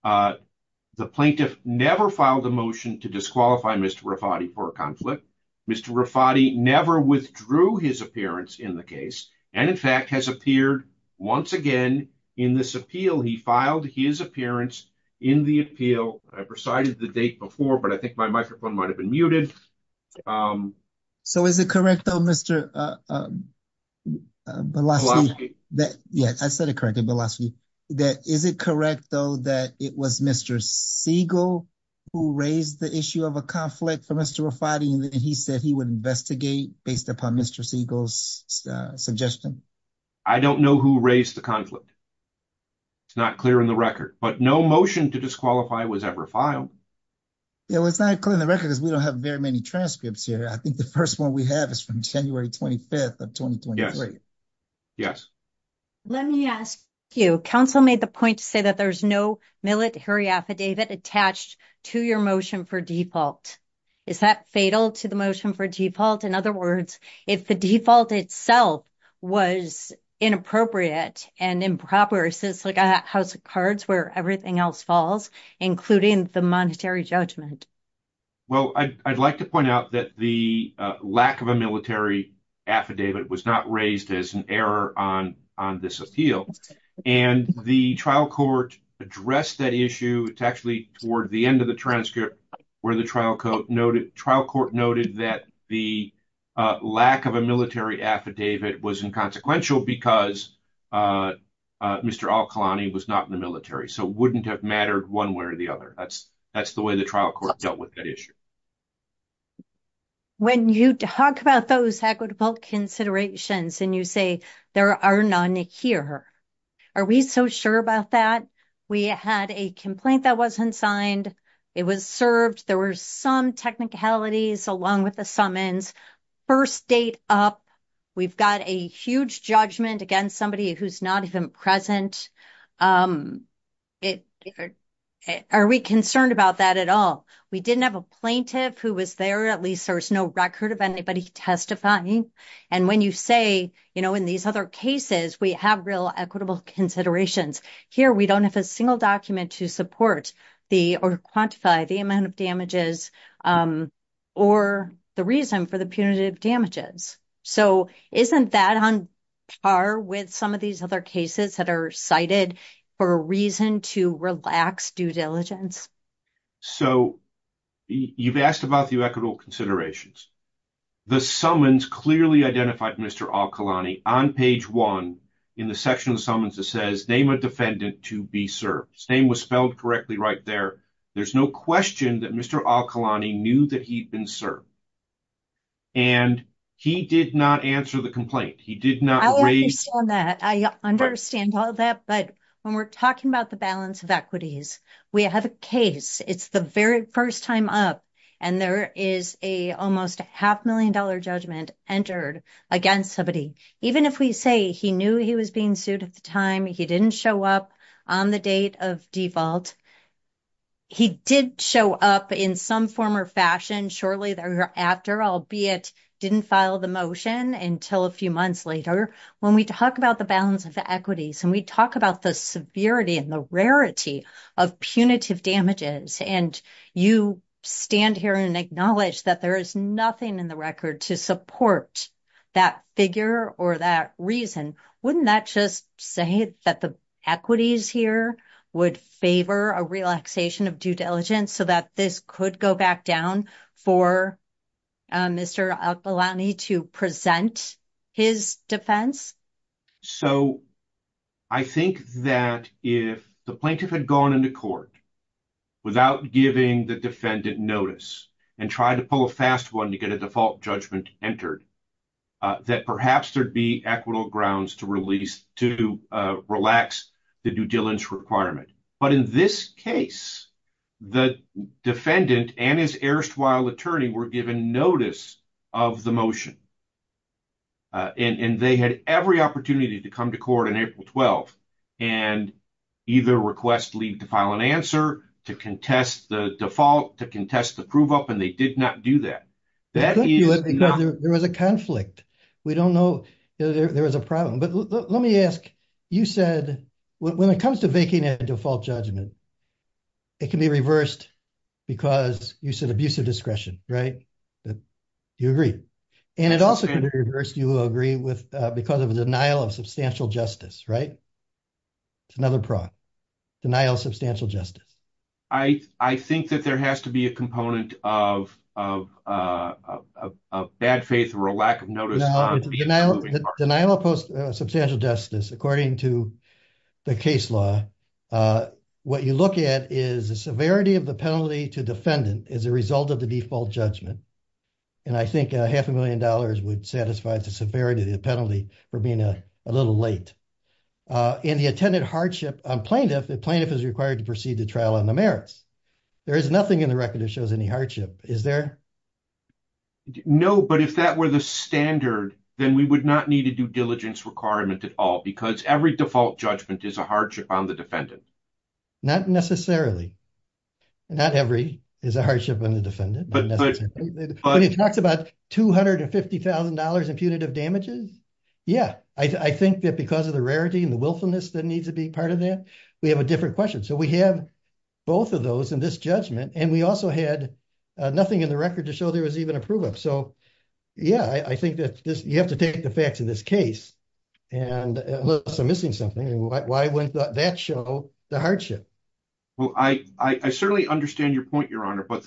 The plaintiff never filed a motion to disqualify Mr. Rafati for a conflict. Mr. Rafati never withdrew his appearance in the case and in fact has appeared once again in this appeal. He filed his appearance in the appeal. I've recited the date before, but I think my microphone might've been muted. So is it correct though, Mr. Bilaswi? Yes, I said it correctly, Bilaswi. That is it correct though, that it was Mr. Segal who raised the issue of a conflict for Mr. Rafati and he said he would investigate based upon Mr. Segal's suggestion. I don't know who raised the conflict. It's not clear in the record, but no motion to disqualify was ever filed. Yeah, well, it's not clear in the record because we don't have very many transcripts here. I think the first one we have is from January 25th of 2023. Let me ask you, council made the point to say that there's no millet hurry affidavit attached to your motion for default. Is that fatal to the motion for default? In other words, if the default itself was inappropriate and improper, so it's like a house of cards where everything else falls, including the monetary judgment. Well, I'd like to point out that the lack of a military affidavit was not raised as an error on this appeal. And the trial court addressed that issue. It's actually toward the end of the transcript where the trial court noted that the lack of a military affidavit was inconsequential because Mr. Al-Khalani was not in the military. So it wouldn't have mattered one way or the other. That's the way the trial court dealt with that issue. When you talk about those equitable considerations and you say there are none here, are we so sure about that? We had a complaint that wasn't signed. It was served. There were some technicalities along with the summons. First date up, we've got a huge judgment against somebody who's not even present. Are we concerned about that at all? We didn't have a plaintiff who was there. At least there was no record of anybody testifying. And when you say, you know, in these other cases, we have real equitable considerations. Here, we don't have a single document to support or quantify the amount of damages or the reason for the punitive damages. So isn't that on par with some of these other cases that are cited for a reason to relax due diligence? So you've asked about the equitable considerations. The summons clearly identified Mr. Al-Khalani on page one in the section of the summons that says name a defendant to be served. His name was spelled correctly right there. There's no question that Mr. Al-Khalani knew that he'd been served. And he did not answer the complaint. He did not raise- I understand that. I understand all that. But when we're talking about the balance of equities, we have a case. It's the very first time up and there is a almost a half million dollar judgment entered against somebody. Even if we say he knew he was being sued at the time, he didn't show up on the date of default. He did show up in some form or fashion shortly thereafter, albeit didn't file the motion until a few months later. When we talk about the balance of the equities and we talk about the severity and the rarity of punitive damages and you stand here and acknowledge that there is nothing in the record to support that figure or that reason, wouldn't that just say that the equities here would favor a relaxation of due diligence so that this could go back down for Mr. Al-Khalani to present his defense? So I think that if the plaintiff had gone into court without giving the defendant notice and tried to pull a fast one to get a default judgment entered, that perhaps there'd be equitable grounds to relax the due diligence requirement. But in this case, the defendant and his erstwhile attorney were given notice of the motion and they had every opportunity to come to court on April 12th and either request leave to file an answer, to contest the default, to contest the prove up, and they did not do that. There was a conflict. There was a problem. Let me ask, when it comes to making a default judgment, it can be reversed because you said abuse of discretion, right? Do you agree? And it also can be reversed, do you agree, because of the denial of substantial justice, right? It's another product, denial of substantial justice. I think that there has to be a component of bad faith or a lack of notice. The denial of substantial justice, according to the case law, what you look at is the severity of the penalty to defendant as a result of the default judgment. And I think a half a million dollars would satisfy the severity of the penalty for being a little late. In the attendant hardship on plaintiff, the plaintiff is required to proceed to trial on the merits. There is nothing in the record that shows any hardship, is there? No, but if that were the standard, then we would not need to do diligence requirement at all because every default judgment is a hardship on the defendant. Not necessarily. Not every is a hardship on the defendant. But it talks about $250,000 in punitive damages. Yeah, I think that because of the rarity and the willfulness that needs to be part of that, we have a different question. So we have both of those in this judgment and we also had nothing in the record to show there was even a prove up. So yeah, I think that you have to take the facts in this case. And unless I'm missing something, why wouldn't that show the hardship? Well, I certainly understand your point, Your Honor, but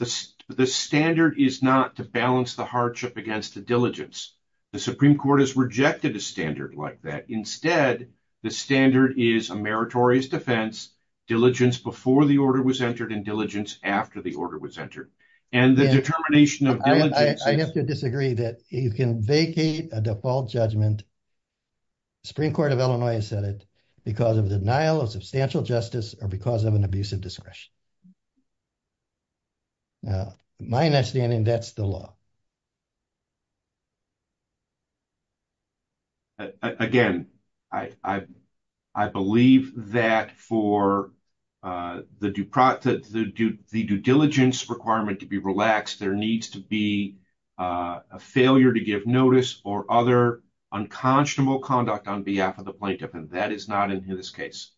the standard is not to balance the hardship against the diligence. The Supreme Court has rejected a standard like that. Instead, the standard is a meritorious defense, diligence before the order was entered and diligence after the order was entered. And the determination of diligence. I have to disagree that you can vacate a default judgment. Supreme Court of Illinois has said it because of the denial of substantial justice or because of an abusive discretion. Now, my understanding, that's the law. Again, I believe that for the due diligence requirement to be relaxed, there needs to be a failure to give notice or other unconscionable conduct on behalf of the plaintiff. And that is not in this case.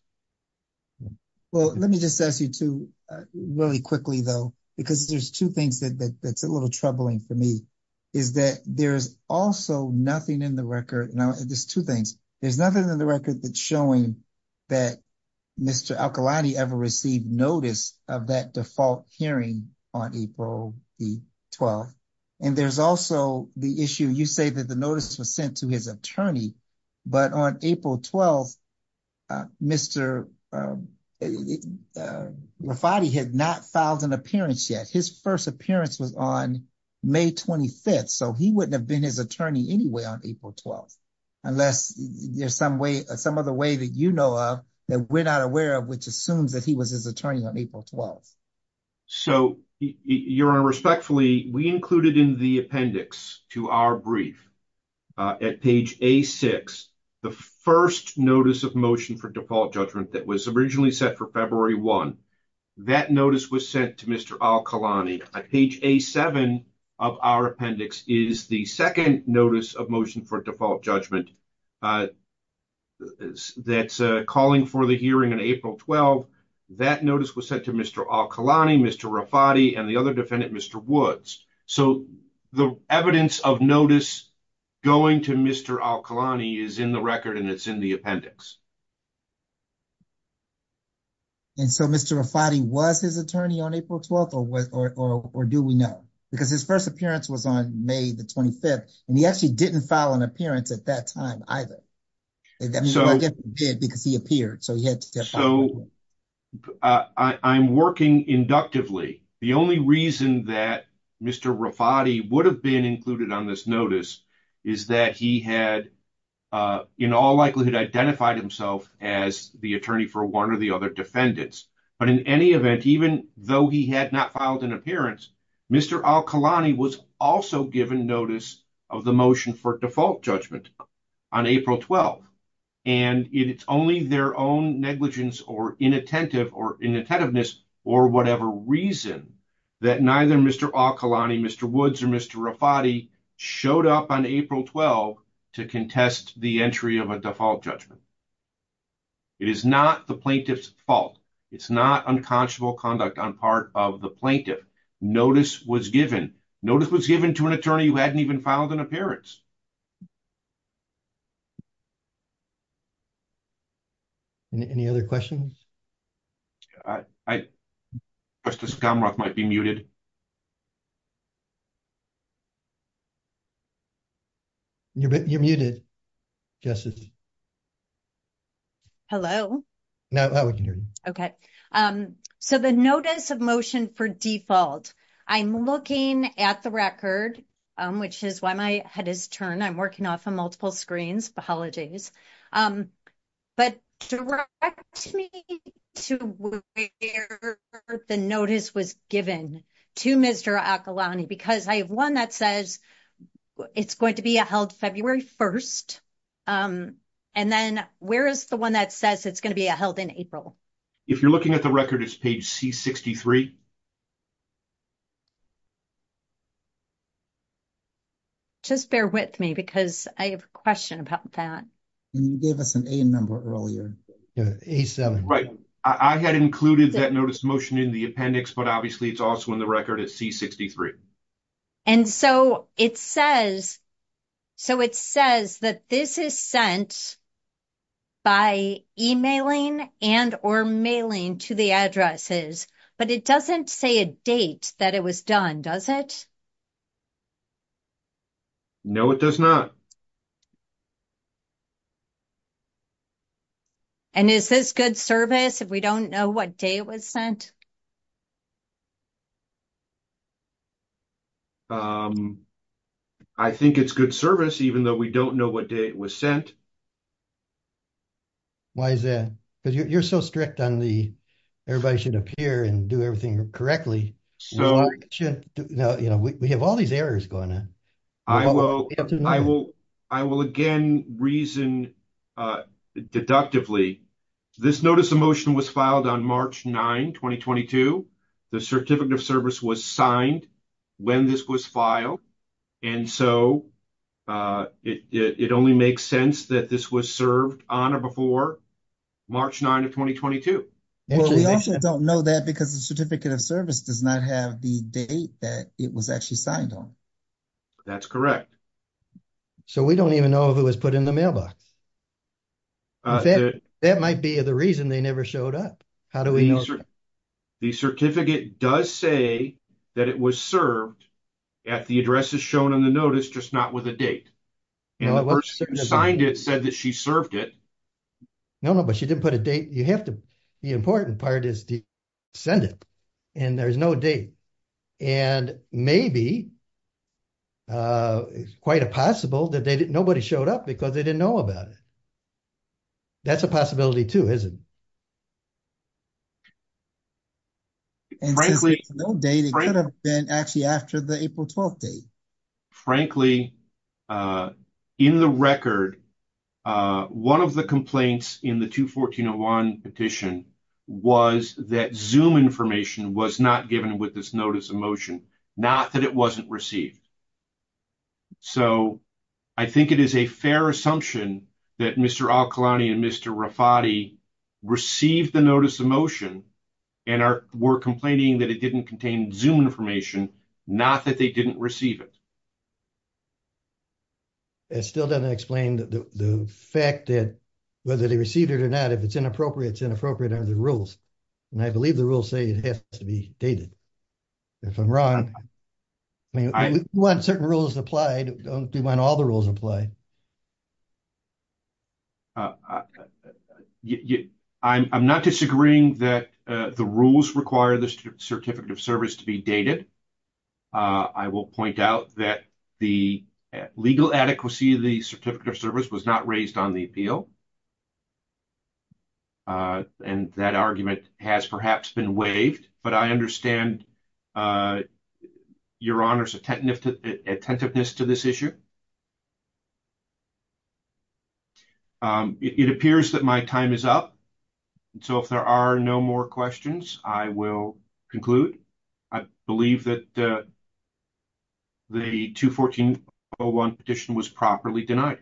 Well, let me just ask you two really quickly, though, because there's two things that's a little troubling for me is that there's also nothing in the record. Now, there's two things. There's nothing in the record showing that Mr. Al-Khalili ever received notice of that default hearing on April the 12th. And there's also the issue, you say that the notice was sent to his attorney, but on April 12th, Mr. Rafati had not filed an appearance yet. His first appearance was on May 25th. So he wouldn't have been his attorney anyway on April 12th, unless there's some other way that you know of that we're not aware of, which assumes that he was his attorney on April 12th. So, Your Honor, respectfully, we included in the appendix to our brief at page A6, the first notice of motion for default judgment that was originally set for February 1. That notice was sent to Mr. Al-Khalili. Page A7 of our appendix is the second notice of motion for default judgment that's calling for the hearing on April 12th. That notice was sent to Mr. Al-Khalili, Mr. Rafati, and the other defendant, Mr. Woods. So the evidence of notice going to Mr. Al-Khalili is in the record and it's in the appendix. And so Mr. Rafati was his attorney on April 12th or do we know? Because his first appearance was on May the 25th and he actually didn't file an appearance at that time. I guess he did because he appeared. So he had to step up. So I'm working inductively. The only reason that Mr. Rafati would have been included on this notice is that he had, in all likelihood, identified himself as the attorney for one or the other defendants. But in any event, even though he had not filed an appearance, Mr. Al-Khalili was also given notice of the motion for default judgment. On April 12th. And it's only their own negligence or inattentive or inattentiveness or whatever reason that neither Mr. Al-Khalili, Mr. Woods or Mr. Rafati showed up on April 12th to contest the entry of a default judgment. It is not the plaintiff's fault. It's not unconscionable conduct on part of the plaintiff. Notice was given. Notice was given to an attorney who hadn't even filed an appearance. Any other questions? I, I, Justice Gomrock might be muted. You're, you're muted. Justice. Hello. Now we can hear you. Okay. So the notice of motion for default. I'm looking at the record, which is why my head is turned. I'm working off of multiple screens. But direct me to the notice was given to Mr. Al-Khalili because I have one that says it's going to be held February 1st. And then where is the one that says it's going to be held in April? If you're looking at the record, it's page C63. Just bear with me because I have a question about that. And you gave us an A number earlier, A7. I had included that notice motion in the appendix, but obviously it's also in the record at C63. And so it says, so it says that this is sent by emailing and or mailing to the addresses, but it doesn't say a date that it was done, does it? No, it does not. And is this good service if we don't know what day it was sent? I think it's good service, even though we don't know what day it was sent. Why is that? Because you're so strict on the, everybody should appear and do everything correctly. We have all these errors going on. I will again reason deductively. This notice of motion was filed on March 9, 2022. The certificate of service was signed when this was filed. And so it only makes sense that this was served on or before March 9 of 2022. We also don't know that because the certificate of service does not have the date that it was actually signed on. That's correct. So we don't even know if it was put in the mailbox. That might be the reason they never showed up. How do we know? The certificate does say that it was served at the addresses shown on the notice, just not with a date. And the person who signed it said that she served it. No, no, but she didn't put a date. You have to, the important part is to send it and there's no date. And maybe it's quite a possible that nobody showed up because they didn't know about it. That's a possibility too, isn't it? And frankly, no date. It could have been actually after the April 12th date. Frankly, in the record, one of the complaints in the 214.01 petition was that Zoom information was not given with this notice of motion, not that it wasn't received. So I think it is a fair assumption that Mr. Al-Khalani and Mr. Rafati received the notice of motion and were complaining that it didn't contain Zoom information, not that they didn't receive it. It still doesn't explain the fact that whether they received it or not, if it's inappropriate, it's inappropriate under the rules. And I believe the rules say it has to be dated. If I'm wrong, I mean, we want certain rules applied. We don't want all the rules applied. I'm not disagreeing that the rules require the Certificate of Service to be dated. I will point out that the legal adequacy of the Certificate of Service was not raised on the appeal. And that argument has perhaps been waived, but I understand Your Honor's attentiveness to this issue. It appears that my time is up. So if there are no more questions, I will conclude. I believe that the 2-1401 petition was properly denied.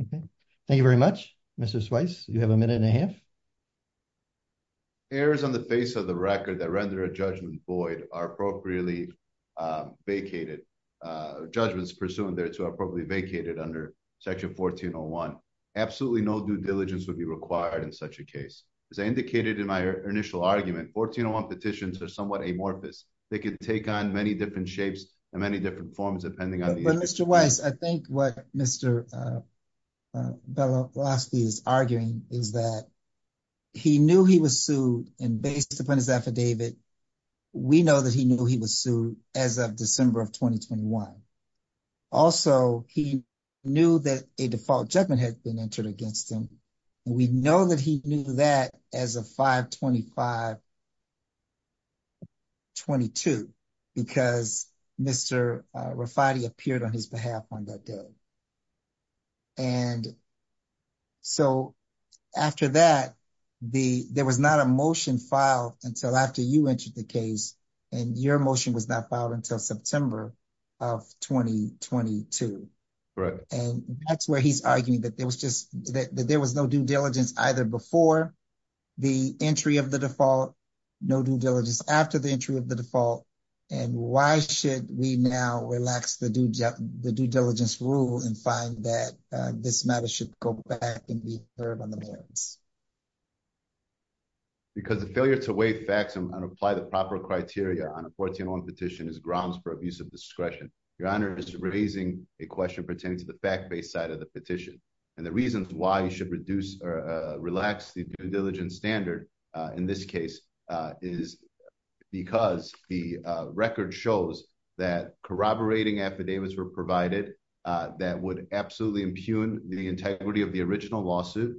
Okay. Thank you very much, Mr. Swyce. You have a minute and a half. Errors on the face of the record that render a judgment void are appropriately vacated. Judgments pursuant there to appropriately vacated under Section 1401. Absolutely no due diligence would be required in such a case. As I indicated in my initial argument, 1401 petitions are somewhat amorphous. They can take on many different shapes and many different forms, depending on the issue. I think what Mr. Bielanski is arguing is that he knew he was sued and based upon his affidavit, we know that he knew he was sued as of December of 2021. Also, he knew that a default judgment had been entered against him. We know that he knew that as of 5-25-22 because Mr. Rafati appeared on his behalf on that day. So after that, there was not a motion filed until after you entered the case and your motion was not filed until September of 2022. Right. And that's where he's arguing that there was no due diligence either before the entry of the default, no due diligence after the entry of the default. And why should we now relax the due diligence rule and find that this matter should go back and be heard on the merits? Because the failure to weigh facts and apply the proper criteria on a 1401 petition is grounds for abusive discretion. Your honor is raising a question pertaining to the fact-based side of the petition and the reasons why you should reduce relax the due diligence standard in this case is because the record shows that corroborating epidemics were provided that would absolutely impugn the integrity of the original lawsuit.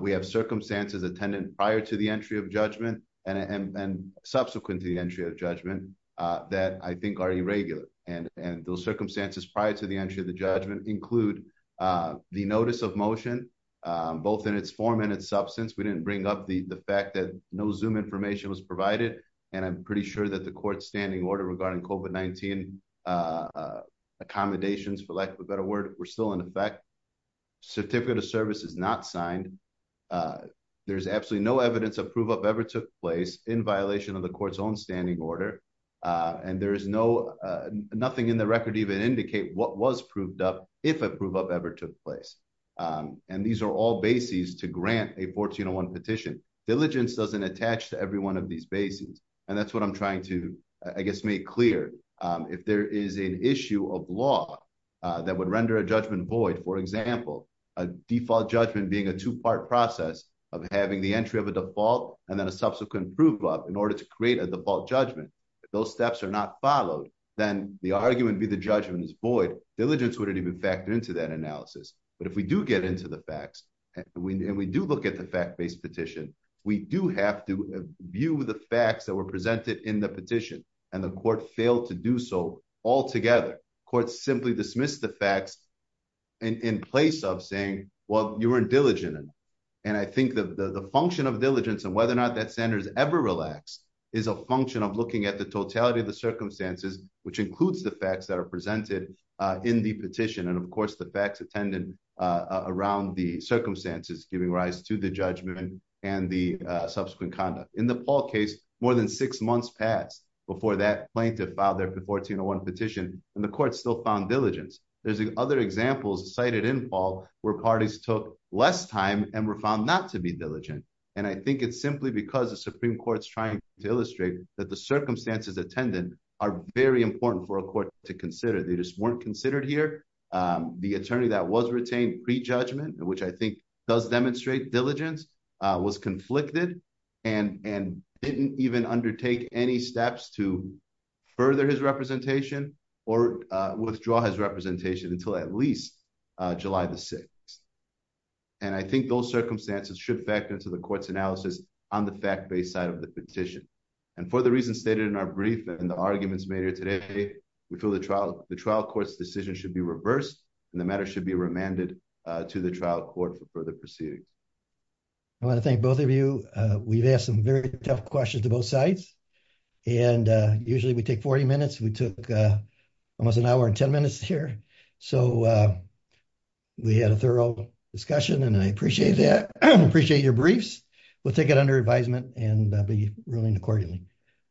We have circumstances attendant prior to the entry of judgment and subsequent to the entry of judgment that I think are irregular. And those circumstances prior to the entry of the judgment include the notice of motion, both in its form and its substance. We didn't bring up the fact that no Zoom information was provided. And I'm pretty sure that the court's standing order regarding COVID-19 accommodations for lack of a better word were still in effect. Certificate of service is not signed. There's absolutely no evidence of prove up ever took place in violation of the court's own standing order. And there is nothing in the record even indicate what was proved up if a prove up ever took place. And these are all bases to grant a 1401 petition. Diligence doesn't attach to every one of these bases. And that's what I'm trying to, I guess, make clear. If there is an issue of law that would render a judgment void, for example, a default judgment being a two-part process of having the entry of a default and then a subsequent prove up in order to create a default judgment. If those steps are not followed, then the argument would be the judgment is void. Diligence wouldn't even factor into that analysis. But if we do get into the facts and we do look at the fact-based petition, we do have to view the facts that were presented in the petition. And the court failed to do so altogether. Courts simply dismissed the facts in place of saying, well, you weren't diligent enough. And I think the function of diligence and whether or not that center is ever relaxed is a function of looking at the totality of the circumstances, which includes the facts that are presented in the petition. And of course, the facts attended around the circumstances giving rise to the judgment and the subsequent conduct. In the Paul case, more than six months passed before that plaintiff filed their 1401 petition and the court still found diligence. There's other examples cited in Paul where parties took less time and were found not to be diligent. And I think it's simply because the Supreme Court's trying to illustrate that the circumstances attended are very important for a court to consider. They just weren't considered here. The attorney that was retained pre-judgment, which I think does demonstrate diligence, was conflicted and didn't even undertake any steps to further his representation or withdraw his representation until at least July the 6th. And I think those circumstances should factor into the court's analysis on the fact-based side of the petition. And for the reasons stated in our brief and the arguments made here today, we feel the trial court's decision should be reversed and the matter should be remanded to the trial court for further proceedings. I want to thank both of you. We've asked some very tough questions to both sides. And usually we take 40 minutes. We took almost an hour and 10 minutes here. So we had a thorough discussion and I appreciate that. I appreciate your briefs. We'll take it under advisement and be ruling accordingly.